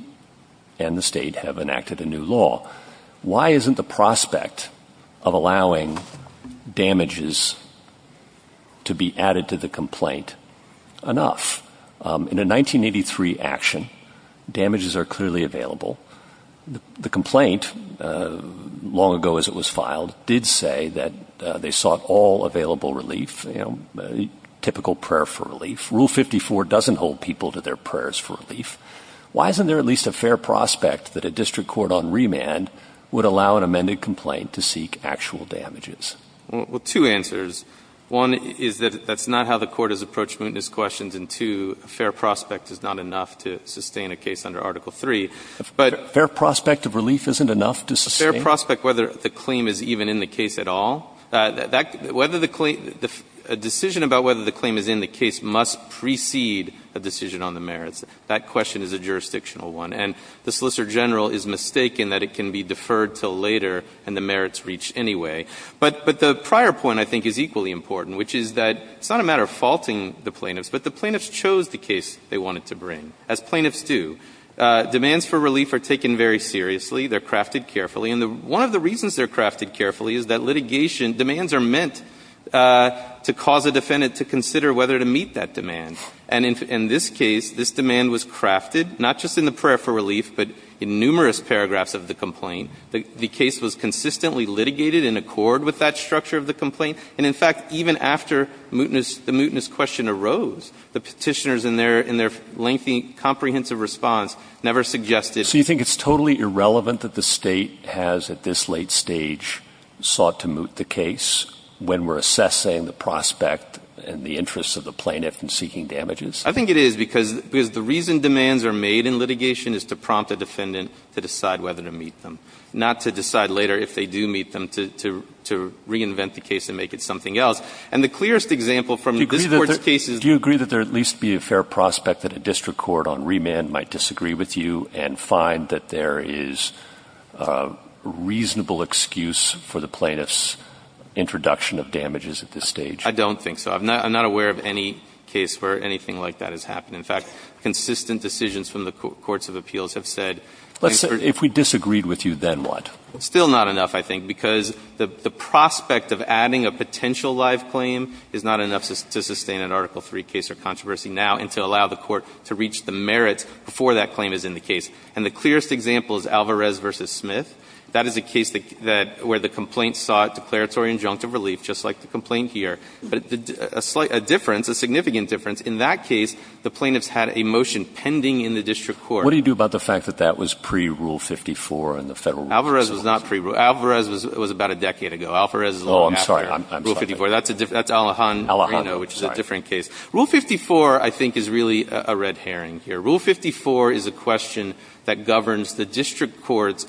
and the State have enacted a new law. Why isn't the prospect of allowing damages to be added to the complaint enough? In a 1983 action, damages are clearly available. The complaint, long ago as it was filed, did say that they sought all available relief, you know, typical prayer for relief. Rule 54 doesn't hold people to their prayers for relief. Why isn't there at least a fair prospect that a district court on remand would allow an amended complaint to seek actual damages? Well, two answers. One is that that's not how the Court has approached mootness questions. And two, a fair prospect is not enough to sustain a case under Article III. But — Fair prospect of relief isn't enough to sustain — Fair prospect, whether the claim is even in the case at all. That — whether the claim — a decision about whether the claim is in the case must precede a decision on the merits. That question is a jurisdictional one. And the Solicitor General is mistaken that it can be deferred until later, and the merits reach anyway. But the prior point, I think, is equally important, which is that it's not a matter of faulting the plaintiffs, but the plaintiffs chose the case they wanted to bring, as plaintiffs do. Demands for relief are taken very seriously. They're crafted carefully. And one of the reasons they're crafted carefully is that litigation — demands are meant to cause a defendant to consider whether to meet that demand. And in this case, this demand was crafted not just in the prayer for relief, but in numerous paragraphs of the complaint. The case was consistently litigated in accord with that structure of the complaint. And, in fact, even after mootness — the mootness question arose, the Petitioners in their — in their lengthy, comprehensive response never suggested — So you think it's totally irrelevant that the State has, at this late stage, sought to moot the case when we're assessing the prospect and the interests of the plaintiff in seeking damages? I think it is, because — because the reason demands are made in litigation is to prompt a defendant to decide whether to meet them, not to decide later, if they do meet them, to — to reinvent the case and make it something else. And the clearest example from this Court's cases — Do you agree that there at least be a fair prospect that a district court on remand might disagree with you and find that there is a reasonable excuse for the plaintiff's introduction of damages at this stage? I don't think so. I'm not aware of any case where anything like that has happened. In fact, consistent decisions from the courts of appeals have said — If we disagreed with you, then what? Still not enough, I think, because the prospect of adding a potential live claim is not enough to sustain an Article III case or controversy now and to allow the Court to reach the merits before that claim is in the case. And the clearest example is Alvarez v. Smith. That is a case that — where the complaint sought declaratory injunctive relief, just like the complaint here. But a slight — a difference, a significant difference. In that case, the plaintiffs had a motion pending in the district court. What do you do about the fact that that was pre-Rule 54 and the Federal Rule 54? Alvarez was not pre-Rule — Alvarez was about a decade ago. Alvarez is a little after — Oh, I'm sorry. Rule 54. That's Alejandro Reno, which is a different case. Rule 54, I think, is really a red herring here. Rule 54 is a question that governs the district court's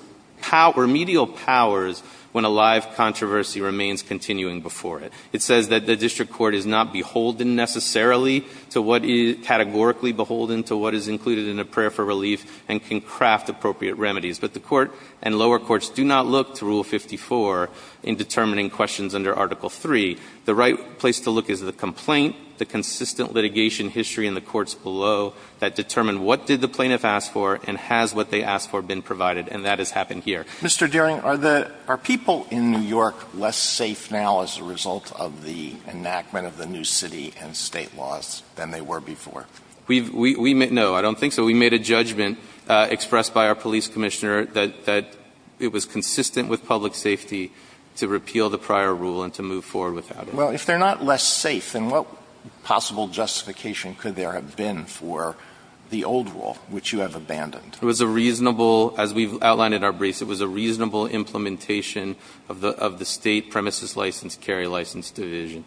remedial powers when a live controversy remains continuing before it. It says that the district court is not beholden necessarily to what is — categorically beholden to what is included in a prayer for relief and can craft appropriate remedies. But the Court and lower courts do not look to Rule 54 in determining questions under Article III. The right place to look is the complaint, the consistent litigation history in the courts below that determine what did the plaintiff ask for and has what they asked for been provided, and that has happened here. Mr. Doering, are the — are people in New York less safe now as a result of the enactment of the new city and State laws than they were before? We've — we — no, I don't think so. We made a judgment expressed by our police commissioner that — that it was consistent with public safety to repeal the prior rule and to move forward without it. Well, if they're not less safe, then what possible justification could there have been for the old rule, which you have abandoned? It was a reasonable — as we've outlined in our briefs, it was a reasonable implementation of the — of the State premises license, carry license division.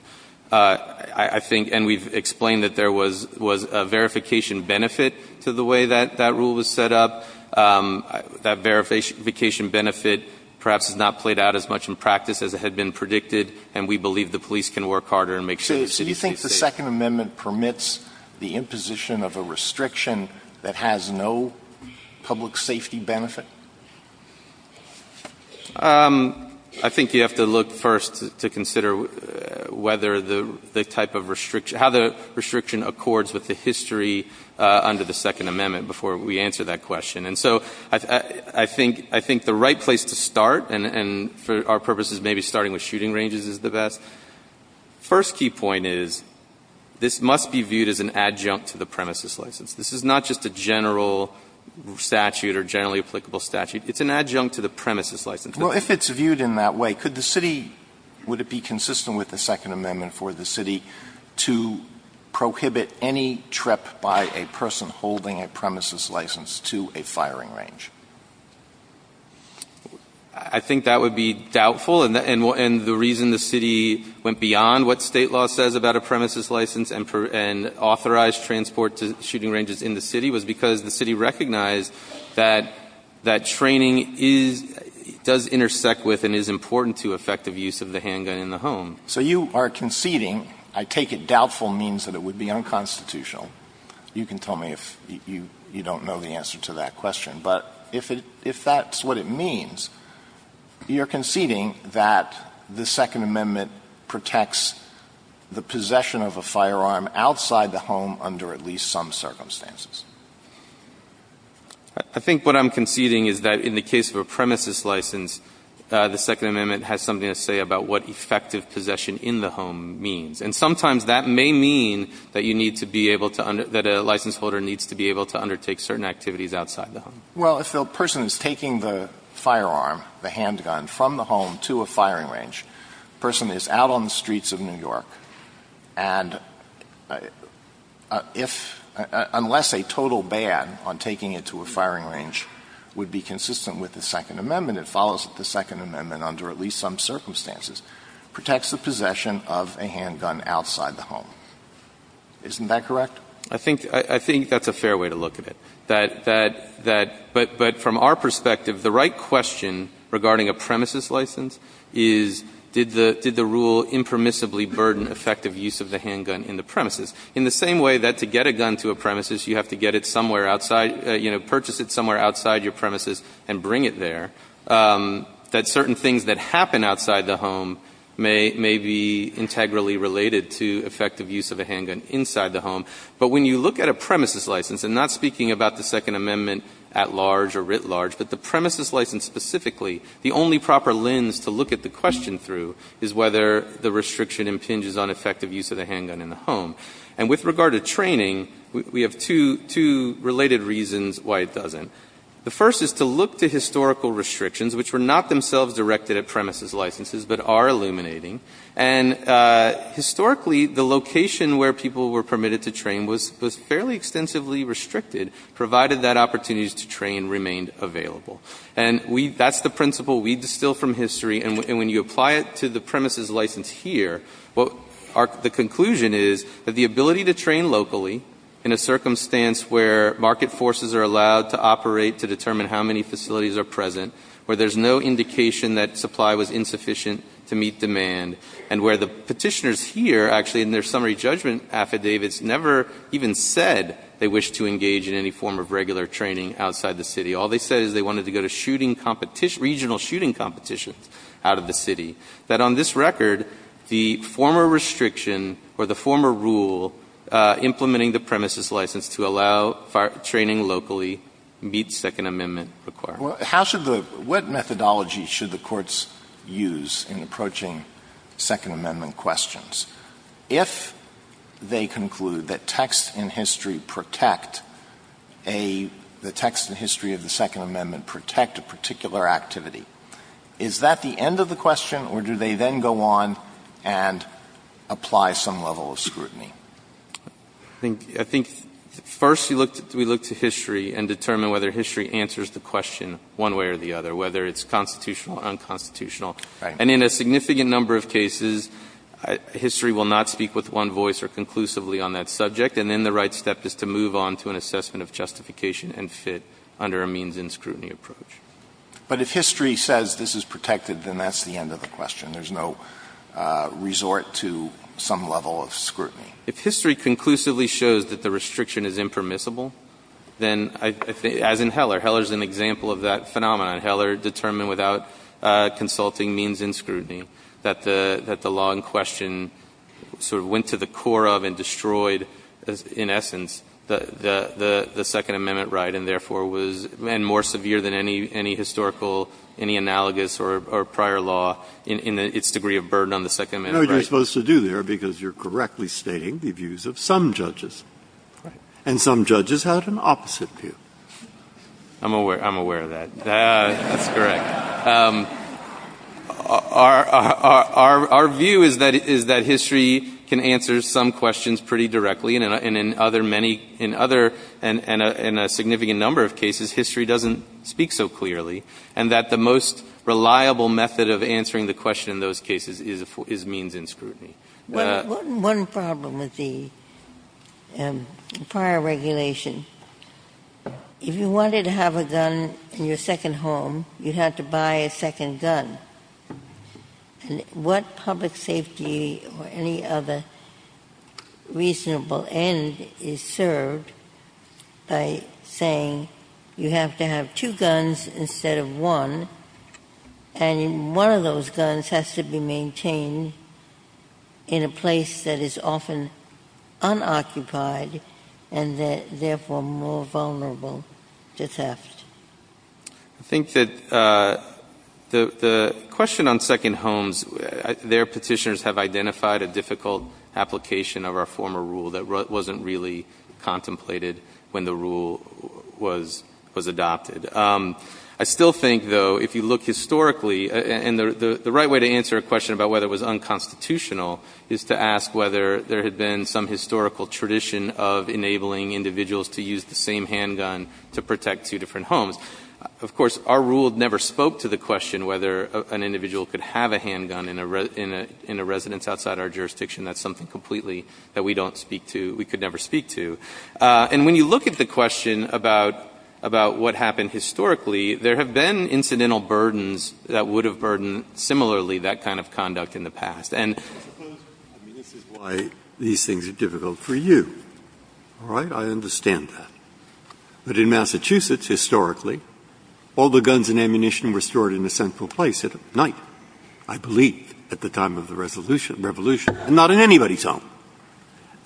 I think — and we've explained that there was — was a verification benefit to the way that — that rule was set up. That verification benefit perhaps has not played out as much in practice as it had been predicted, and we believe the police can work harder and make sure the city stays safe. The Second Amendment permits the imposition of a restriction that has no public safety benefit? I think you have to look first to consider whether the type of restriction — how the restriction accords with the history under the Second Amendment before we answer that question. And so I think — I think the right place to start, and for our purposes, maybe starting with shooting ranges is the best. First key point is this must be viewed as an adjunct to the premises license. This is not just a general statute or generally applicable statute. It's an adjunct to the premises license. Well, if it's viewed in that way, could the city — would it be consistent with the Second Amendment for the city to prohibit any trip by a person holding a premises license to a firing range? I think that would be doubtful. And the reason the city went beyond what State law says about a premises license and authorized transport to shooting ranges in the city was because the city recognized that that training is — does intersect with and is important to effective use of the handgun in the home. So you are conceding — I take it doubtful means that it would be unconstitutional. You can tell me if you don't know the answer to that question. But if it — if that's what it means, you're conceding that the Second Amendment protects the possession of a firearm outside the home under at least some circumstances. I think what I'm conceding is that in the case of a premises license, the Second Amendment has something to say about what effective possession in the home means. And sometimes that may mean that you need to be able to — that a license holder needs to be able to undertake certain activities outside the home. Well, if the person is taking the firearm, the handgun, from the home to a firing range, the person is out on the streets of New York and if — unless a total ban on taking it to a firing range would be consistent with the Second Amendment, it follows that the Second Amendment under at least some circumstances protects the possession of a handgun outside the home. Isn't that correct? I think — I think that's a fair way to look at it, that — that — but from our perspective, the right question regarding a premises license is did the — did the rule impermissibly burden effective use of the handgun in the premises? In the same way that to get a gun to a premises, you have to get it somewhere outside — you know, purchase it somewhere outside your premises and bring it there, that certain things that happen outside the home may — may be integrally related to effective use of a handgun inside the home. But when you look at a premises license, and not speaking about the Second Amendment at large or writ large, but the premises license specifically, the only proper lens to look at the question through is whether the restriction impinges on effective use of the handgun in the home. And with regard to training, we have two — two related reasons why it doesn't. The first is to look to historical restrictions, which were not themselves directed at premises licenses, but are illuminating. And historically, the location where people were permitted to train was — was fairly extensively restricted, provided that opportunities to train remained available. And we — that's the principle we distill from history. And when you apply it to the premises license here, what our — the conclusion is that the ability to train locally in a circumstance where market forces are allowed to operate to determine how many facilities are present, where there's no indication that supply was insufficient to meet demand, and where the Petitioners here actually in their summary judgment affidavits never even said they wished to engage in any form of regular training outside the city. All they said is they wanted to go to shooting competition — regional shooting competitions out of the city. That on this record, the former restriction or the former rule implementing the premises license to allow training locally meets Second Amendment requirements. Alito, how should the — what methodology should the courts use in approaching Second Amendment questions? If they conclude that texts in history protect a — the texts in history of the Second Amendment protect a particular activity, is that the end of the question, or do they then go on and apply some level of scrutiny? I think — I think first you look — we look to history and determine whether history answers the question one way or the other, whether it's constitutional or unconstitutional. And in a significant number of cases, history will not speak with one voice or conclusively on that subject. And then the right step is to move on to an assessment of justification and fit under a means and scrutiny approach. But if history says this is protected, then that's the end of the question. There's no resort to some level of scrutiny. If history conclusively shows that the restriction is impermissible, then I — as in Heller. Heller's an example of that phenomenon. Heller determined without consulting means and scrutiny that the law in question sort of went to the core of and destroyed, in essence, the Second Amendment right and therefore was — and more severe than any historical, any analogous or prior law in its degree of burden on the Second Amendment right. I don't know what you're supposed to do there because you're correctly stating the views of some judges. Right. And some judges had an opposite view. I'm aware — I'm aware of that. That's correct. Our view is that history can answer some questions pretty directly. And in other many — in other — in a significant number of cases, history doesn't speak so clearly. And that the most reliable method of answering the question in those cases is means and scrutiny. One problem with the prior regulation, if you wanted to have a gun in your second home, you had to buy a second gun. And what public safety or any other reasonable end is served by saying you have to have two guns instead of one, and one of those guns has to be maintained in a place that is often unoccupied and therefore more vulnerable to theft? I think that the question on second homes, their Petitioners have identified a difficult application of our former rule that wasn't really contemplated when the rule was adopted. I still think, though, if you look historically — and the right way to answer a question about whether it was unconstitutional is to ask whether there had been some historical tradition of enabling individuals to use the same handgun to protect two different homes. Of course, our rule never spoke to the question whether an individual could have a handgun in a jurisdiction that's something completely that we don't speak to, we could never speak to. And when you look at the question about what happened historically, there have been incidental burdens that would have burdened similarly that kind of conduct in the past. And this is why these things are difficult for you. All right? I understand that. But in Massachusetts, historically, all the guns and ammunition were stored in a central place at night. I believe at the time of the revolution, and not in anybody's home.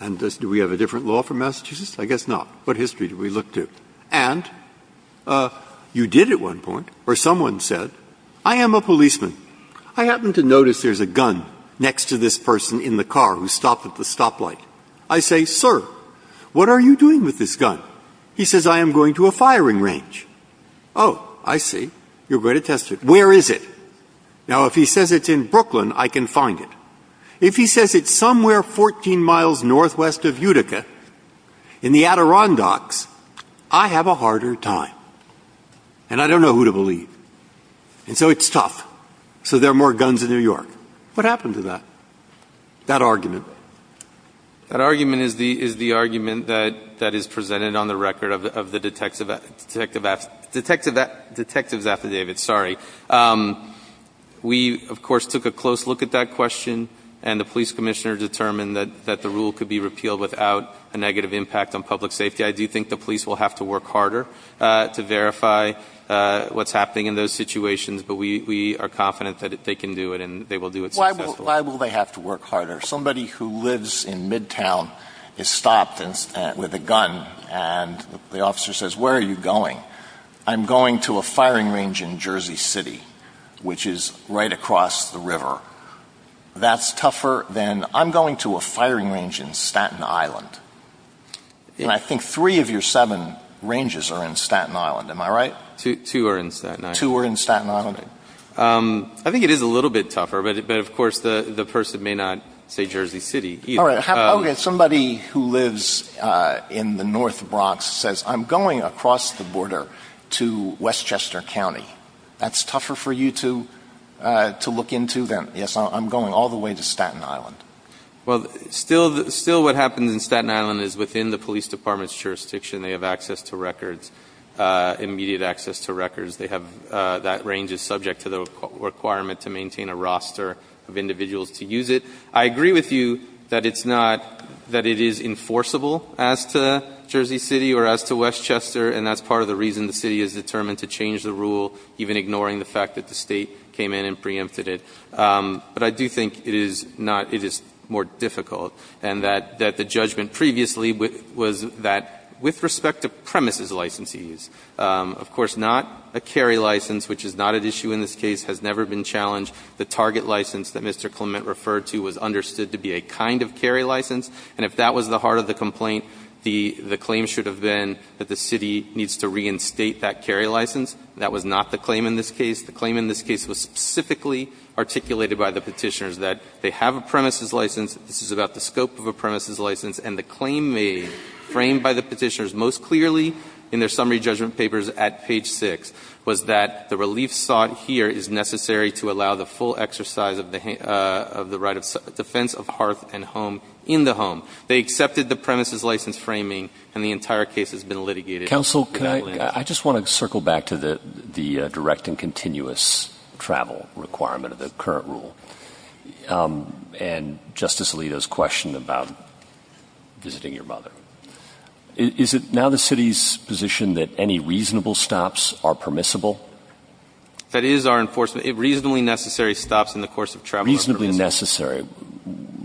And do we have a different law for Massachusetts? I guess not. What history do we look to? And you did at one point where someone said, I am a policeman. I happen to notice there's a gun next to this person in the car who stopped at the stoplight. I say, sir, what are you doing with this gun? He says, I am going to a firing range. Oh, I see. You're going to test it. Where is it? Now, if he says it's in Brooklyn, I can find it. If he says it's somewhere 14 miles northwest of Utica in the Adirondacks, I have a harder time. And I don't know who to believe. And so it's tough. So there are more guns in New York. What happened to that? That argument. That argument is the argument that is presented on the record of the detective affidavit. Sorry. We, of course, took a close look at that question, and the police commissioner determined that the rule could be repealed without a negative impact on public safety. I do think the police will have to work harder to verify what's happening in those situations. But we are confident that they can do it, and they will do it successfully. Why will they have to work harder? Somebody who lives in Midtown is stopped with a gun, and the officer says, where are you going? I'm going to a firing range in Jersey City, which is right across the river. That's tougher than I'm going to a firing range in Staten Island. And I think three of your seven ranges are in Staten Island. Am I right? Two are in Staten Island. Two are in Staten Island. I think it is a little bit tougher, but, of course, the person may not say Jersey City. Somebody who lives in the north Bronx says, I'm going across the border to Westchester County. That's tougher for you to look into than, yes, I'm going all the way to Staten Island. Well, still what happens in Staten Island is within the police department's jurisdiction, they have access to records, immediate access to records. They have that range is subject to the requirement to maintain a roster of individuals to use it. I agree with you that it's not, that it is enforceable as to Jersey City or as to Westchester, and that's part of the reason the city is determined to change the rule, even ignoring the fact that the State came in and preempted it. But I do think it is not, it is more difficult, and that the judgment previously was that with respect to premises licensees, of course, not a carry license, which is not at issue in this case, has never been challenged. The target license that Mr. Clement referred to was understood to be a kind of carry license, and if that was the heart of the complaint, the claim should have been that the city needs to reinstate that carry license. That was not the claim in this case. The claim in this case was specifically articulated by the Petitioners that they have a premises license. This is about the scope of a premises license. And the claim made, framed by the Petitioners most clearly in their summary judgment papers at page 6, was that the relief sought here is necessary to allow the full exercise of the right of defense of hearth and home in the home. They accepted the premises license framing, and the entire case has been litigated in that way. Counsel, I just want to circle back to the direct and continuous travel requirement of the current rule and Justice Alito's question about visiting your mother. Is it now the city's position that any reasonable stops are permissible? That is our enforcement. Reasonably necessary stops in the course of travel are permissible. Reasonably necessary.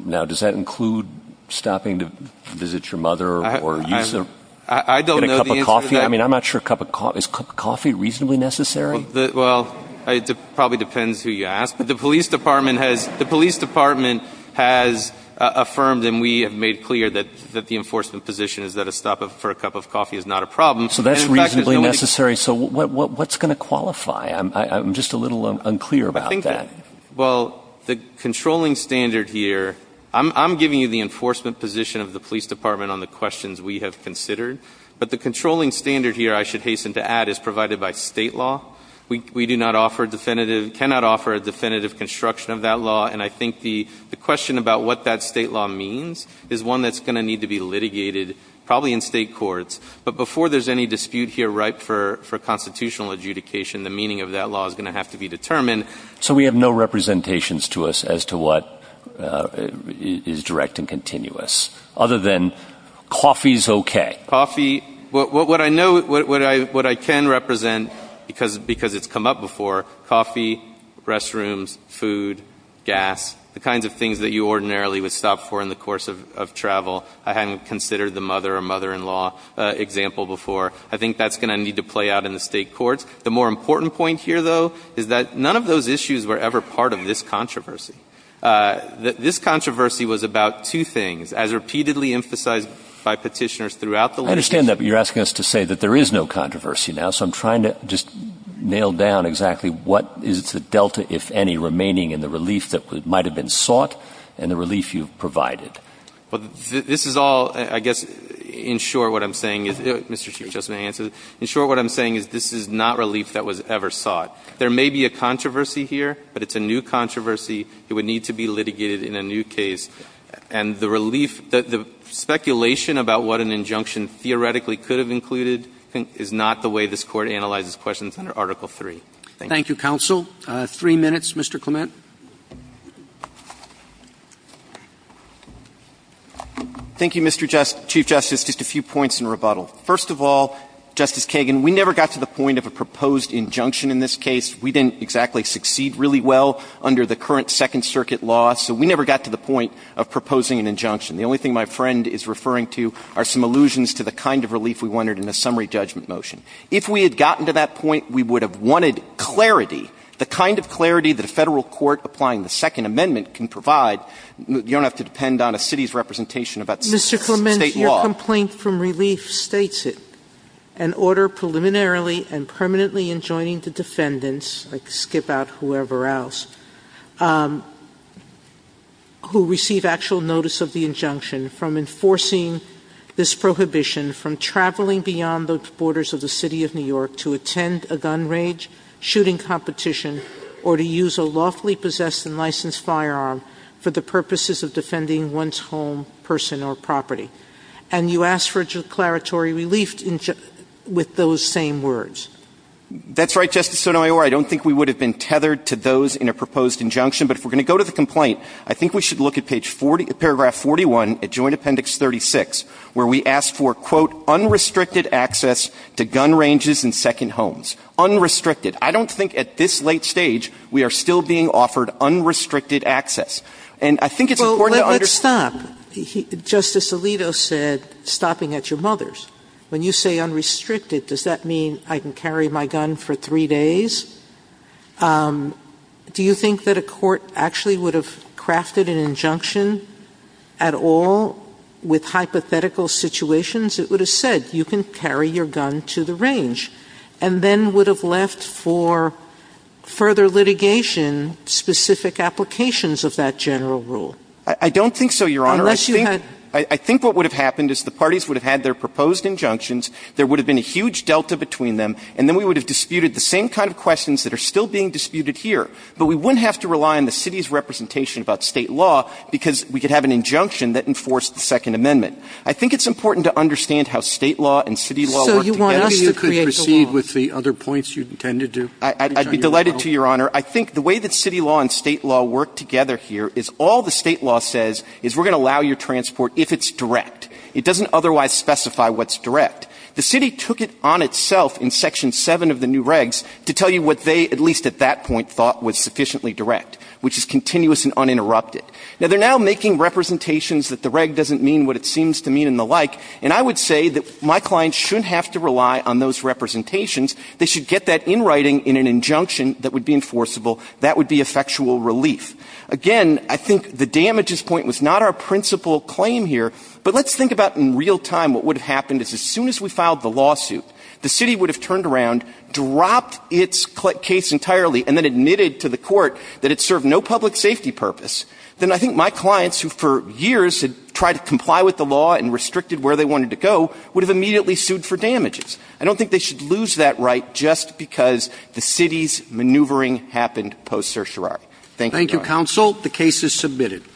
Now, does that include stopping to visit your mother or use a cup of coffee? I mean, I'm not sure a cup of coffee. Is a cup of coffee reasonably necessary? Well, it probably depends who you ask. But the police department has affirmed and we have made clear that the enforcement position is that a stop for a cup of coffee is not a problem. So that's reasonably necessary. So what's going to qualify? I'm just a little unclear about that. Well, the controlling standard here, I'm giving you the enforcement position of the police department on the questions we have considered. But the controlling standard here, I should hasten to add, is provided by state law. We do not offer definitive, cannot offer a definitive construction of that law. And I think the question about what that state law means is one that's going to need to be litigated probably in state courts. But before there's any dispute here ripe for constitutional adjudication, the meaning of that law is going to have to be determined. So we have no representations to us as to what is direct and continuous, other than coffee is okay. Coffee, what I know, what I can represent, because it's come up before, coffee, restrooms, food, gas, the kinds of things that you ordinarily would stop for in the course of travel. I hadn't considered the mother or mother-in-law example before. I think that's going to need to play out in the state courts. The more important point here, though, is that none of those issues were ever part of this controversy. This controversy was about two things. As repeatedly emphasized by Petitioners throughout the law. Roberts. I understand that, but you're asking us to say that there is no controversy now. So I'm trying to just nail down exactly what is the delta, if any, remaining in the relief that might have been sought and the relief you've provided. Well, this is all, I guess, in short what I'm saying is, Mr. Chief Justice may answer this, in short what I'm saying is this is not relief that was ever sought. There may be a controversy here, but it's a new controversy. It would need to be litigated in a new case. And the relief, the speculation about what an injunction theoretically could have included is not the way this Court analyzes questions under Article III. Thank you. Thank you, counsel. Three minutes, Mr. Clement. Thank you, Mr. Chief Justice. Just a few points in rebuttal. First of all, Justice Kagan, we never got to the point of a proposed injunction in this case. We didn't exactly succeed really well under the current Second Circuit law, so we never got to the point of proposing an injunction. The only thing my friend is referring to are some allusions to the kind of relief we wanted in a summary judgment motion. If we had gotten to that point, we would have wanted clarity, the kind of clarity that a Federal court applying the Second Amendment can provide. You don't have to depend on a city's representation about State law. Mr. Clement, your complaint from relief states it. An order preliminarily and permanently enjoining the defendants, I could skip out whoever else, who receive actual notice of the injunction from enforcing this prohibition from traveling beyond the borders of the City of New York to attend a gun rage shooting competition or to use a lawfully possessed and licensed firearm for the purposes of defending one's home, person, or property. And you ask for declaratory relief with those same words. That's right, Justice Sotomayor. I don't think we would have been tethered to those in a proposed injunction. But if we're going to go to the complaint, I think we should look at page 40, paragraph 41, at Joint Appendix 36, where we ask for, quote, unrestricted access to gun ranges and second homes. Unrestricted. I don't think at this late stage we are still being offered unrestricted access. And I think it's important to understand. Sotomayor, let's stop. Justice Alito said stopping at your mother's. When you say unrestricted, does that mean I can carry my gun for three days? Do you think that a court actually would have crafted an injunction at all with hypothetical situations? It would have said you can carry your gun to the range, and then would have left for further litigation specific applications of that general rule. I don't think so, Your Honor. Unless you had. I think what would have happened is the parties would have had their proposed injunctions, there would have been a huge delta between them, and then we would have disputed the same kind of questions that are still being disputed here. But we wouldn't have to rely on the city's representation about State law because we could have an injunction that enforced the Second Amendment. I think it's important to understand how State law and city law work together. So you want us to create the law. So you could proceed with the other points you intended to? I'd be delighted to, Your Honor. I think the way that city law and State law work together here is all the State law says is we're going to allow your transport if it's direct. It doesn't otherwise specify what's direct. The city took it on itself in Section 7 of the new regs to tell you what they, at least at that point, thought was sufficiently direct, which is continuous and uninterrupted. Now, they're now making representations that the reg doesn't mean what it seems to mean and the like, and I would say that my clients shouldn't have to rely on those representations. They should get that in writing in an injunction that would be enforceable. That would be effectual relief. Again, I think the damages point was not our principal claim here, but let's think about in real time what would have happened is as soon as we filed the lawsuit, the city would have turned around, dropped its case entirely, and then admitted to the court that it served no public safety purpose. Then I think my clients, who for years had tried to comply with the law and restricted where they wanted to go, would have immediately sued for damages. I don't think they should lose that right just because the city's maneuvering happened post certiorari. Thank you, Your Honor. Counsel, the case is submitted.